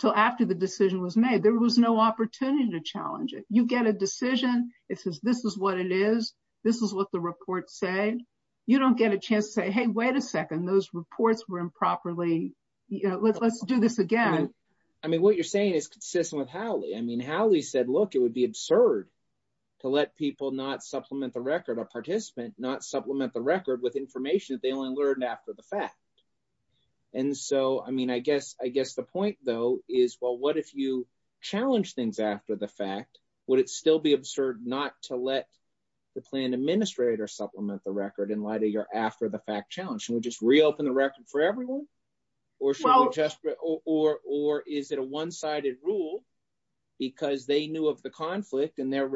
So after the decision was made, there was no opportunity to challenge it. You get a decision. It says, this is what it is. This is what the reports say. You don't get a chance to say, hey, wait a second, those reports were improperly, you know, let's do this again. I mean, what you're saying is consistent with Howley. I mean, Howley said, look, it would be absurd to let people not supplement the record, a participant, not supplement the record with information that they only learned after the fact. And so, I mean, I guess, I guess the point, though, is, well, what if you challenge things after the fact? Would it still be absurd not to let the plan administrator supplement the record in light of your after the fact challenge? Should we just reopen the record for everyone? Or should we just, or is it a one sided rule? Because they knew of the conflict and their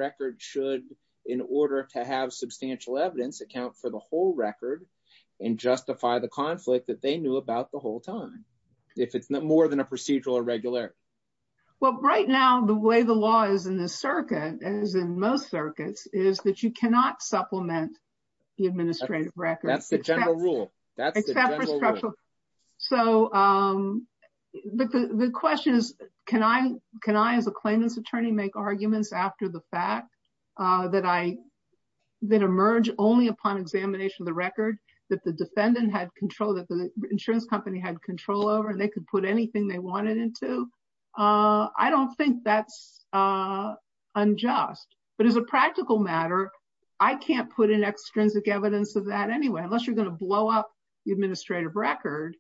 substantial evidence account for the whole record, and justify the conflict that they knew about the whole time, if it's not more than a procedural irregularity. Well, right now, the way the law is in the circuit, as in most circuits is that you cannot supplement the administrative record. That's the general rule. So the question is, can I, can I as a claimant's attorney make arguments after the fact that I then emerge only upon examination of the record that the defendant had control, that the insurance company had control over, and they could put anything they wanted into? I don't think that's unjust. But as a practical matter, I can't put in extrinsic evidence of that anyway, unless you're going to blow up the administrative record.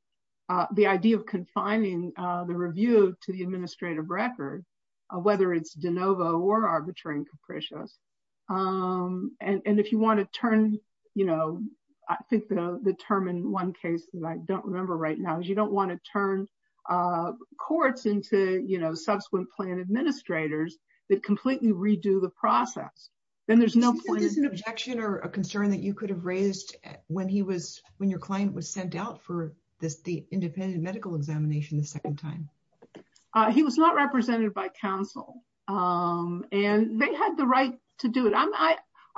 The idea of confining the review to the administrative record, whether it's de novo or arbitrary and capricious. And if you want to turn, you know, I think the term in one case that I don't remember right now is you don't want to turn courts into, you know, subsequent plan administrators that completely redo the process, then there's no point in objection or a concern that you could have raised when he was when your client was sent out for this, the independent medical examination the second time. He was not represented by counsel. And they had the right to do it. I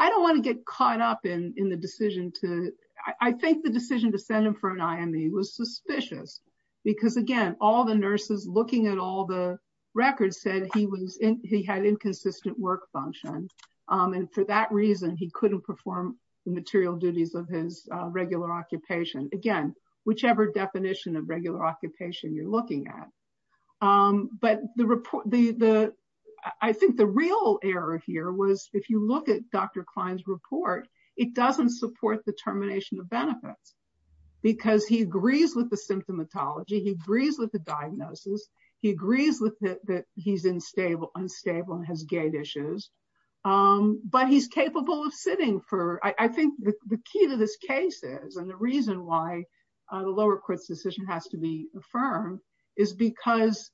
don't want to get caught up in the decision to, I think the decision to send him for an IME was suspicious. Because again, all the nurses looking at all the records said he was in he had inconsistent work function. And for that reason, he couldn't perform the material duties of his regular occupation, again, whichever definition of regular occupation you're looking at. But the report the the, I think the real error here was, if you look at Dr. Klein's report, it doesn't support the termination of benefits. Because he agrees with the symptomatology, he agrees with the diagnosis, he agrees with that he's unstable, unstable and has gait issues. But he's capable of sitting for I think the key to this case is and the reason why the lower courts decision has to be affirmed is because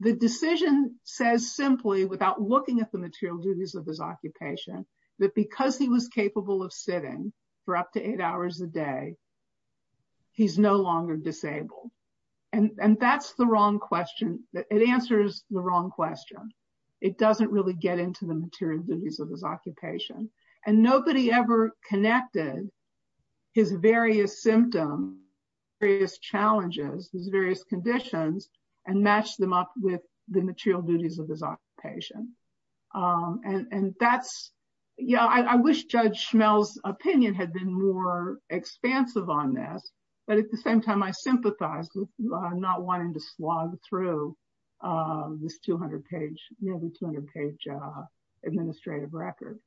the decision says simply without looking at the material duties of his occupation, that because he was capable of sitting for up to eight hours a day, he's no longer disabled. And that's the wrong question that it answers the wrong question. It doesn't really get into the material duties of his occupation. And nobody ever connected his various symptom, various challenges, various conditions, and match them up with the material duties of his occupation. And that's, yeah, I wish Judge Schmel's opinion had been more expansive on this. But at the same time, I sympathize with not wanting to slog through this 200 page, nearly 200 page administrative record.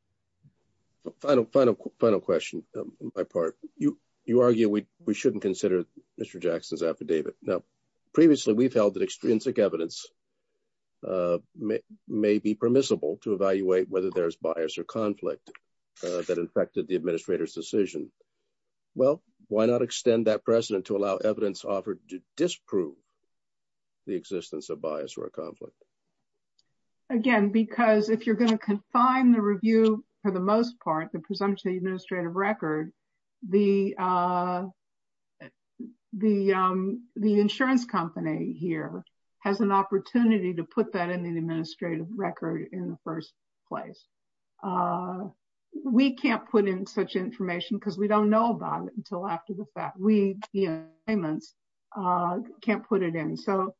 Final, final, final question, my part, you, you argue, we shouldn't consider Mr. Jackson's affidavit. Now, previously, we've held that extrinsic evidence may be permissible to evaluate whether there's bias or conflict that affected the administrator's decision. Well, why not extend that precedent to allow evidence offered to disprove the existence of bias or conflict? Again, because if you're going to confine the review, for the most part, the presumption administrative record, the the, the insurance company here has an opportunity to put that in the administrative record in the first place. We can't put in such information because we don't know about it until after the fact we can't put it in. So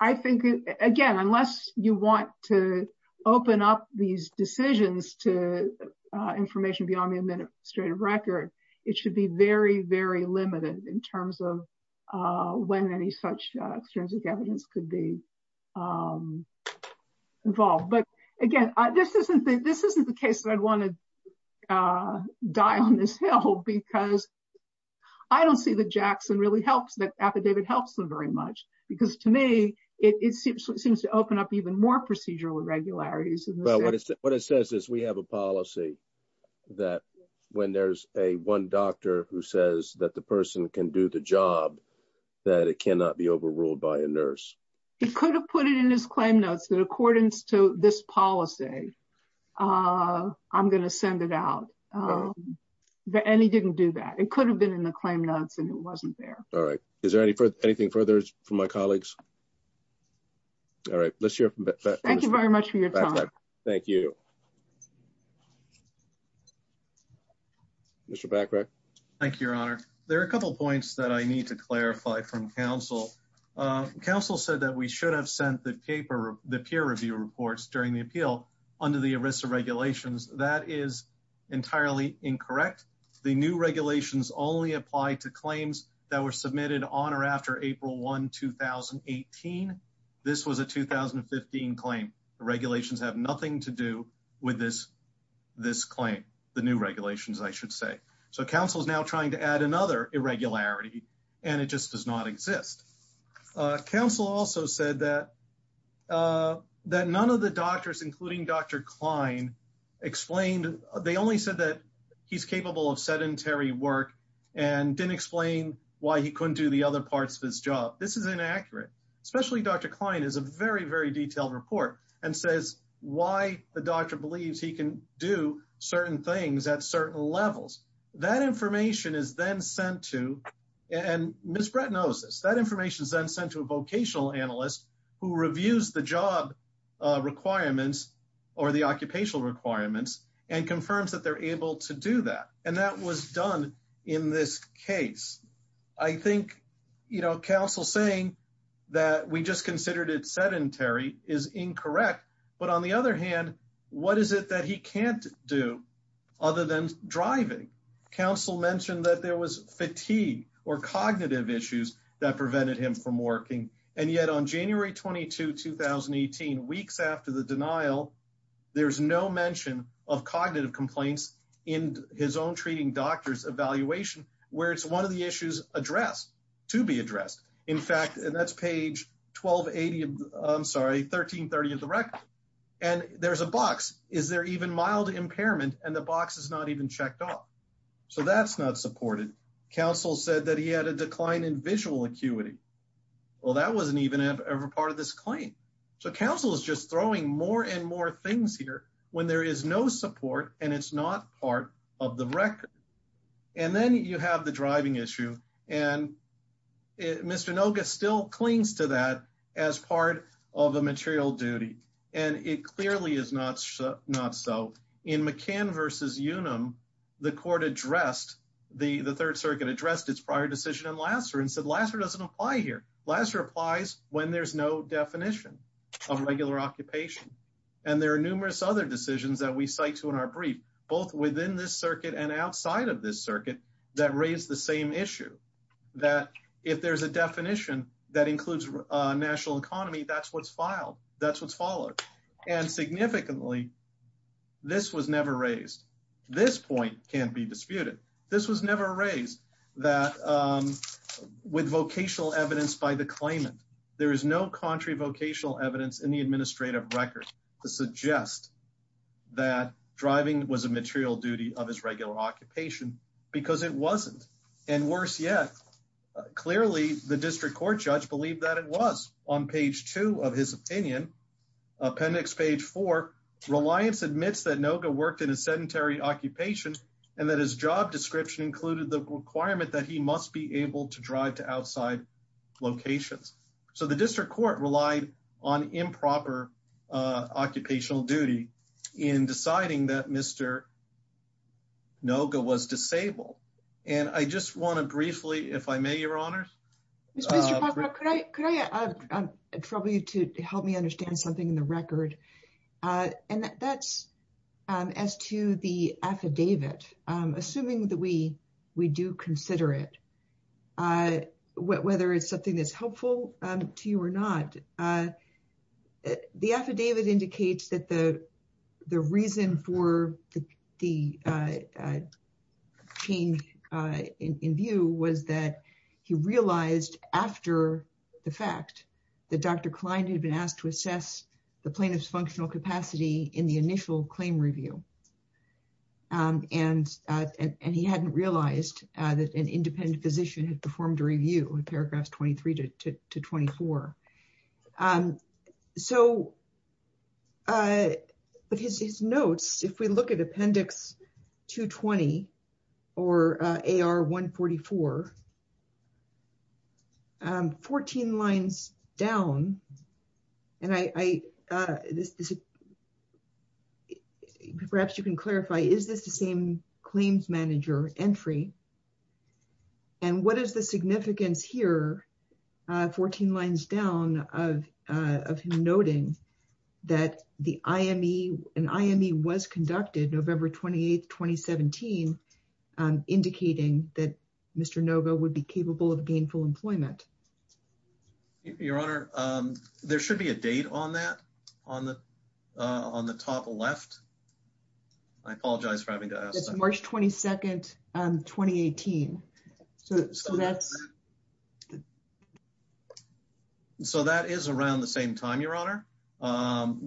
I think, again, unless you want to open up these decisions to information beyond the administrative record, it should be very, very limited in terms of when any such extrinsic evidence could be involved. But again, this isn't the case that I'd want to die on this hill because I don't see the Jackson really helps that affidavit helps them very much, because to me, it seems to open up even more procedural irregularities. What it says is we have a policy that when there's a one doctor who says that the person can do the job, that it cannot be overruled by a nurse. He could have put it in his claim notes that accordance to this policy. I'm going to send it out. But any didn't do that. It could have been in the claim notes, and it wasn't there. All right. Is there any further anything further from my colleagues? All right, let's hear. Thank you very much for your time. Thank you. Mr. Bacroft. Thank you, Your Honor. There are a couple points that I need to clarify from counsel. Counsel said that we should have sent the paper the peer review reports during the appeal under the Arisa regulations. That is entirely incorrect. The new regulations only apply to claims that were submitted on or after April 1 2018. This was a 2015 claim. The regulations have nothing to do with this. This claim, the new regulations, I should say. So counsel is now trying to add another irregularity, and it just does not exist. Counsel also said that none of the doctors, including Dr. Klein, explained. They only said that he's capable of sedentary work and didn't explain why he couldn't do the other parts of his job. This is inaccurate, especially Dr. Klein is a very, very detailed report and says why the doctor believes he can do certain things at certain levels. That information is then sent to, and Ms. Brett knows this, that information is then sent to a vocational analyst who reviews the job requirements or the occupational requirements and confirms that they're able to do that. And that was done in this case. I think, you know, counsel saying that we just considered it sedentary is incorrect. But on the other hand, what is it that he can't do other than driving? Counsel mentioned that there was fatigue or cognitive issues that prevented him from working. And yet on January 22 2018, weeks after the denial, there's no mention of cognitive complaints in his own treating doctors evaluation, where it's one of the issues addressed to be addressed. In fact, and that's page 1280, I'm sorry, 1330 of the record. And there's a box, is there even mild impairment and the box is not even checked off. So that's not supported. Counsel said that he had a decline in visual acuity. Well, that wasn't even ever part of this claim. So counsel is just throwing more and more things here when there is no support and it's not part of the record. And then you have the driving issue. And Mr. Noga still clings to that as part of the material duty. And it clearly is not so. In McCann versus Unum, the court addressed, the Third Circuit addressed its prior decision in Lasser and said Lasser doesn't apply here. Lasser applies when there's no definition of regular occupation. And there are numerous other decisions that we cite to in our brief, both within this circuit and outside of this circuit that raised the same issue. That if there's a definition that includes a national economy, that's what's filed. That's what's followed. And significantly, this was never raised. This point can't be disputed. This was never raised that with vocational evidence by the claimant. There is no contrary vocational evidence in the administrative record to suggest that driving was a material duty of his regular occupation because it wasn't. And worse yet, clearly the district court judge believed that it was. On page two of his opinion, appendix page four, Reliance admits that Noga worked in a sedentary occupation and that his job description included the requirement that he must be able to drive to outside locations. So the district court relied on improper occupational duty in deciding that Mr. Noga was disabled. And I just want to briefly, if I may, your honors. Mr. Popper, could I trouble you to help me understand something in the record? And that's as to the affidavit, assuming that we do consider it, whether it's something that's helpful to you or not. The affidavit indicates that the reason for the change in view was that he realized after the fact that Dr. Klein had been asked to assess the plaintiff's functional capacity in the initial claim review. And he hadn't realized that an independent physician had performed a review in paragraphs 23 to 24. So, but his notes, if we look at appendix 220 or AR 144, 14 lines down, and I, this is perhaps you can clarify, is this the same claims manager entry? And what is the significance here? 14 lines down of, of him noting that the IME, an IME was conducted November 28th, 2017, indicating that Mr. Noga would be capable of gainful employment. Your honor, there should be a date on that, on the, on the top left. I apologize for having to ask. It's March 22nd, 2018. So that's. So that is around the same time, your honor.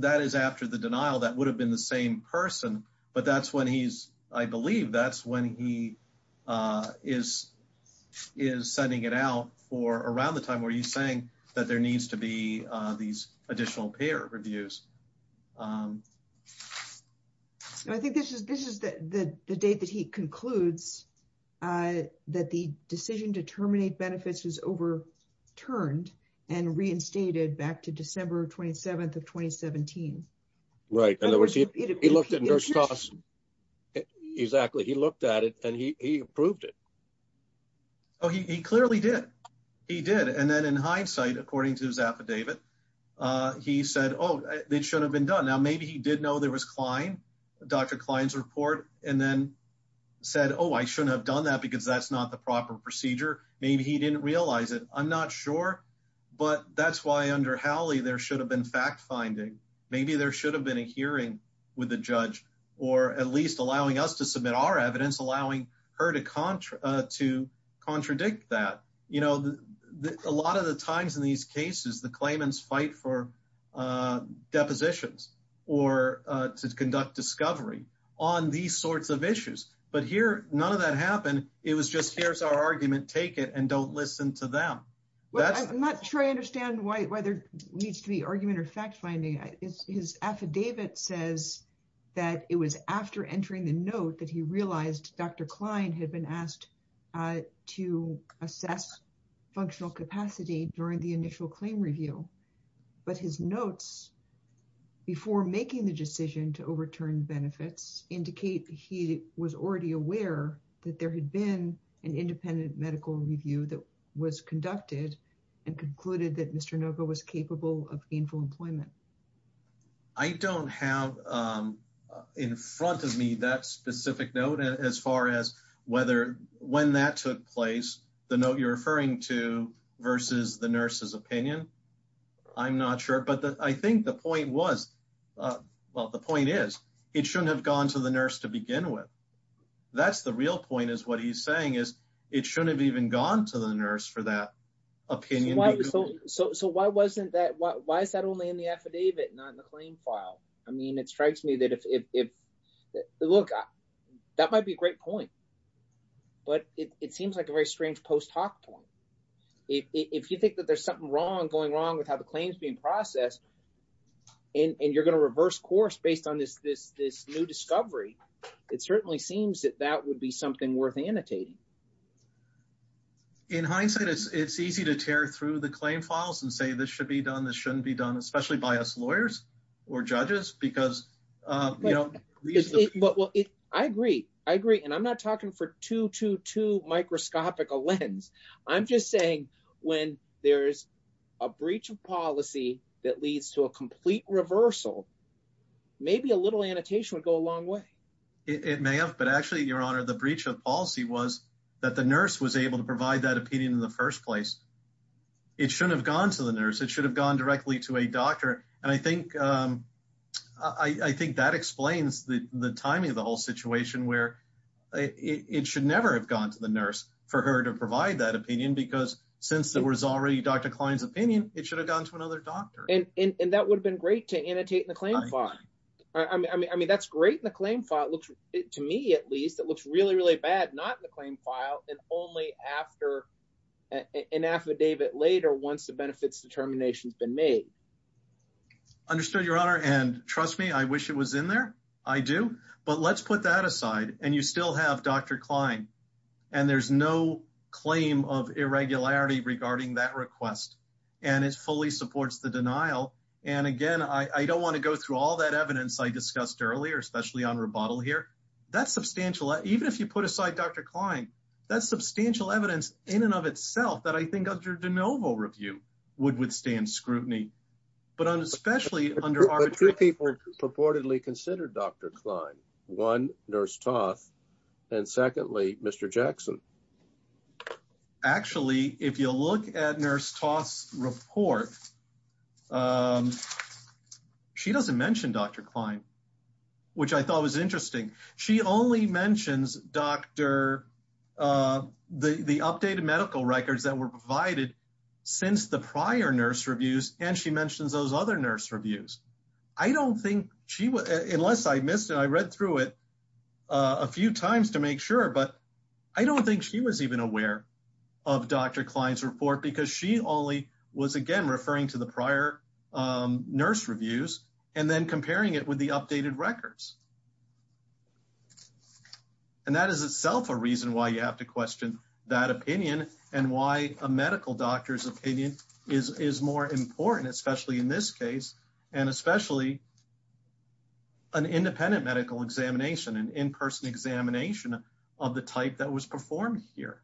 That is after the denial, that would have been the same person, but that's when he's, I believe that's when he is, is sending it out for around the time where he's saying that there needs to be these additional payer reviews. I think this is, this is the date that he concludes that the decision to terminate benefits is overturned and reinstated back to December 27th of 2017. Right. In other words, he looked at it and he approved it. Oh, he clearly did. He did. And then in hindsight, according to his affidavit, he said, oh, they should have been done. Now, maybe he did know there was Klein, Dr. Klein's report, and then said, oh, I shouldn't have done that because that's not the proper procedure. Maybe he didn't realize it. I'm not sure, but that's why under Howley, there should have been fact-finding. Maybe there should have been a hearing with the judge, or at least allowing us to submit our evidence, allowing her to contradict that. A lot of the times in these cases, the claimants fight for depositions or to conduct discovery on these sorts of issues. But here, none of that happened. It was just, here's our argument, take it and don't listen to them. I'm not sure I understand why there needs to be argument or fact-finding. His affidavit says that it was after entering the note that he realized Dr. Klein had been asked to assess functional capacity during the initial claim review. But his notes before making the decision to overturn benefits indicate he was already aware that there had been an independent medical review that was conducted and concluded that Mr. Nova was capable of gainful employment. I don't have in front of me that specific note as far as whether when that took place, the note you're referring to versus the nurse's opinion. I'm not sure. But I think the point was, well, the point is it shouldn't have gone to the nurse to begin with. That's the real point is what he's saying is it shouldn't have even gone to the nurse for that opinion. So why wasn't that, why is that only in the affidavit, not in the claim file? I mean, it strikes me that if, look, that might be a great point. But it seems like a very strange post hoc point. If you think that there's something wrong going wrong with how the claim is being processed and you're going to reverse course based on this new discovery, it certainly seems that would be something worth annotating. In hindsight, it's easy to tear through the claim files and say this should be done, this shouldn't be done, especially by us lawyers or judges because, you know, I agree. I agree. And I'm not talking for two to two microscopic lens. I'm just saying when there's a breach of policy that leads to a complete reversal, maybe a little annotation would go a long way. It may have. But actually, your honor, the breach of policy was that the nurse was able to provide that opinion in the first place. It shouldn't have gone to the nurse. It should have gone directly to a doctor. And I think that explains the timing of the whole situation where it should never have gone to the nurse for her to provide that opinion, because since there was already Dr. Klein's opinion, it should have gone to another doctor. And that would have been great to annotate in the claim file. I mean, that's great in the claim file. To me, at least, it looks really, really bad not in the claim file and only after an affidavit later once the benefits determination has been made. Understood, your honor. And trust me, I wish it was in there. I do. But let's put that aside. And you still have Dr. Klein and there's no claim of irregularity regarding that request. And it fully supports the denial. And again, I don't want to go through all that evidence I discussed earlier, especially on rebuttal here. That's substantial. Even if you put aside Dr. Klein, that's substantial evidence in and of itself that I think under de novo review would withstand scrutiny. But especially under arbitrary people. But two people purportedly considered Dr. Klein. One, Nurse Toth. And secondly, Mr. Jackson. Actually, if you look at Nurse Toth's report, she doesn't mention Dr. Klein, which I thought was interesting. She only mentions the updated medical records that were provided since the prior nurse reviews. And she mentions those other nurse reviews. I don't think she would, unless I missed it, I read through it a few times to make sure. But I don't think she was even aware of Dr. Klein's report because she only was, again, referring to the prior nurse reviews and then comparing it with the updated records. And that is itself a reason why you have to question that opinion and why a medical doctor's opinion is more important, especially in this case, and especially an independent medical examination, an in-person examination of the type that was performed here.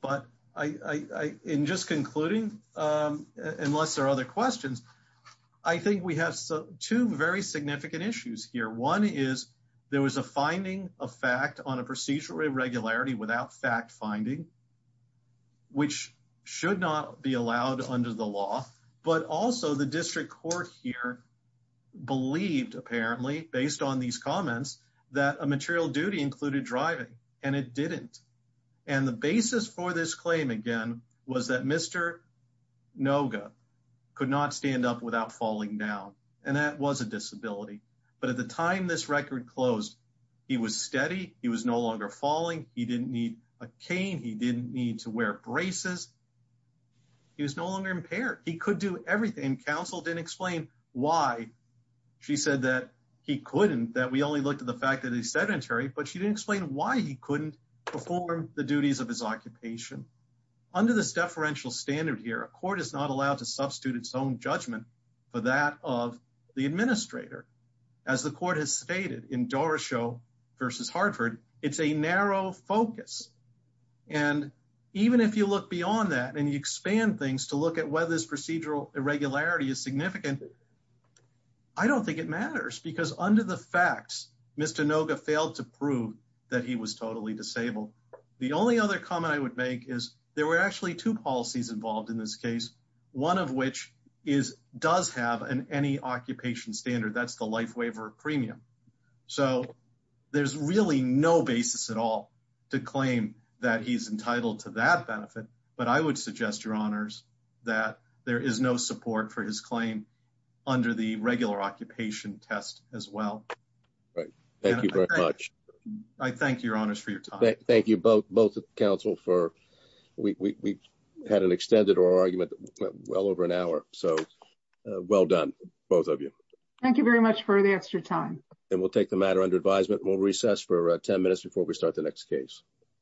But in just concluding, unless there are other questions, I think we have two very significant issues here. One is there was a finding of fact on a procedural irregularity without fact finding, which should not be allowed under the law. But also the district court here believed, apparently, based on these comments, that a material duty included driving, and it didn't. And the basis for this claim, again, was that Mr. Noga could not stand up without falling down, and that was a disability. But at the time this record closed, he was steady, he was no need to wear braces, he was no longer impaired. He could do everything. Counsel didn't explain why she said that he couldn't, that we only looked at the fact that he's sedentary, but she didn't explain why he couldn't perform the duties of his occupation. Under this deferential standard here, a court is not allowed to substitute its own judgment for that of the administrator. As the court has stated in Doroshow versus Hartford, it's a narrow focus. And even if you look beyond that, and you expand things to look at whether this procedural irregularity is significant, I don't think it matters, because under the facts, Mr. Noga failed to prove that he was totally disabled. The only other comment I would make is there were actually two policies involved in this case, one of which does have an any-occupation standard, that's the life waiver premium. So there's really no basis at all to claim that he's entitled to that benefit, but I would suggest, Your Honors, that there is no support for his claim under the regular occupation test as well. Right, thank you very much. I thank Your Honors for your time. Thank you both, both of the counsel, we had an extended argument well over an hour, so well done, both of you. Thank you very much for the extra time. And we'll take the matter under advisement and we'll recess for 10 minutes before we start the next case.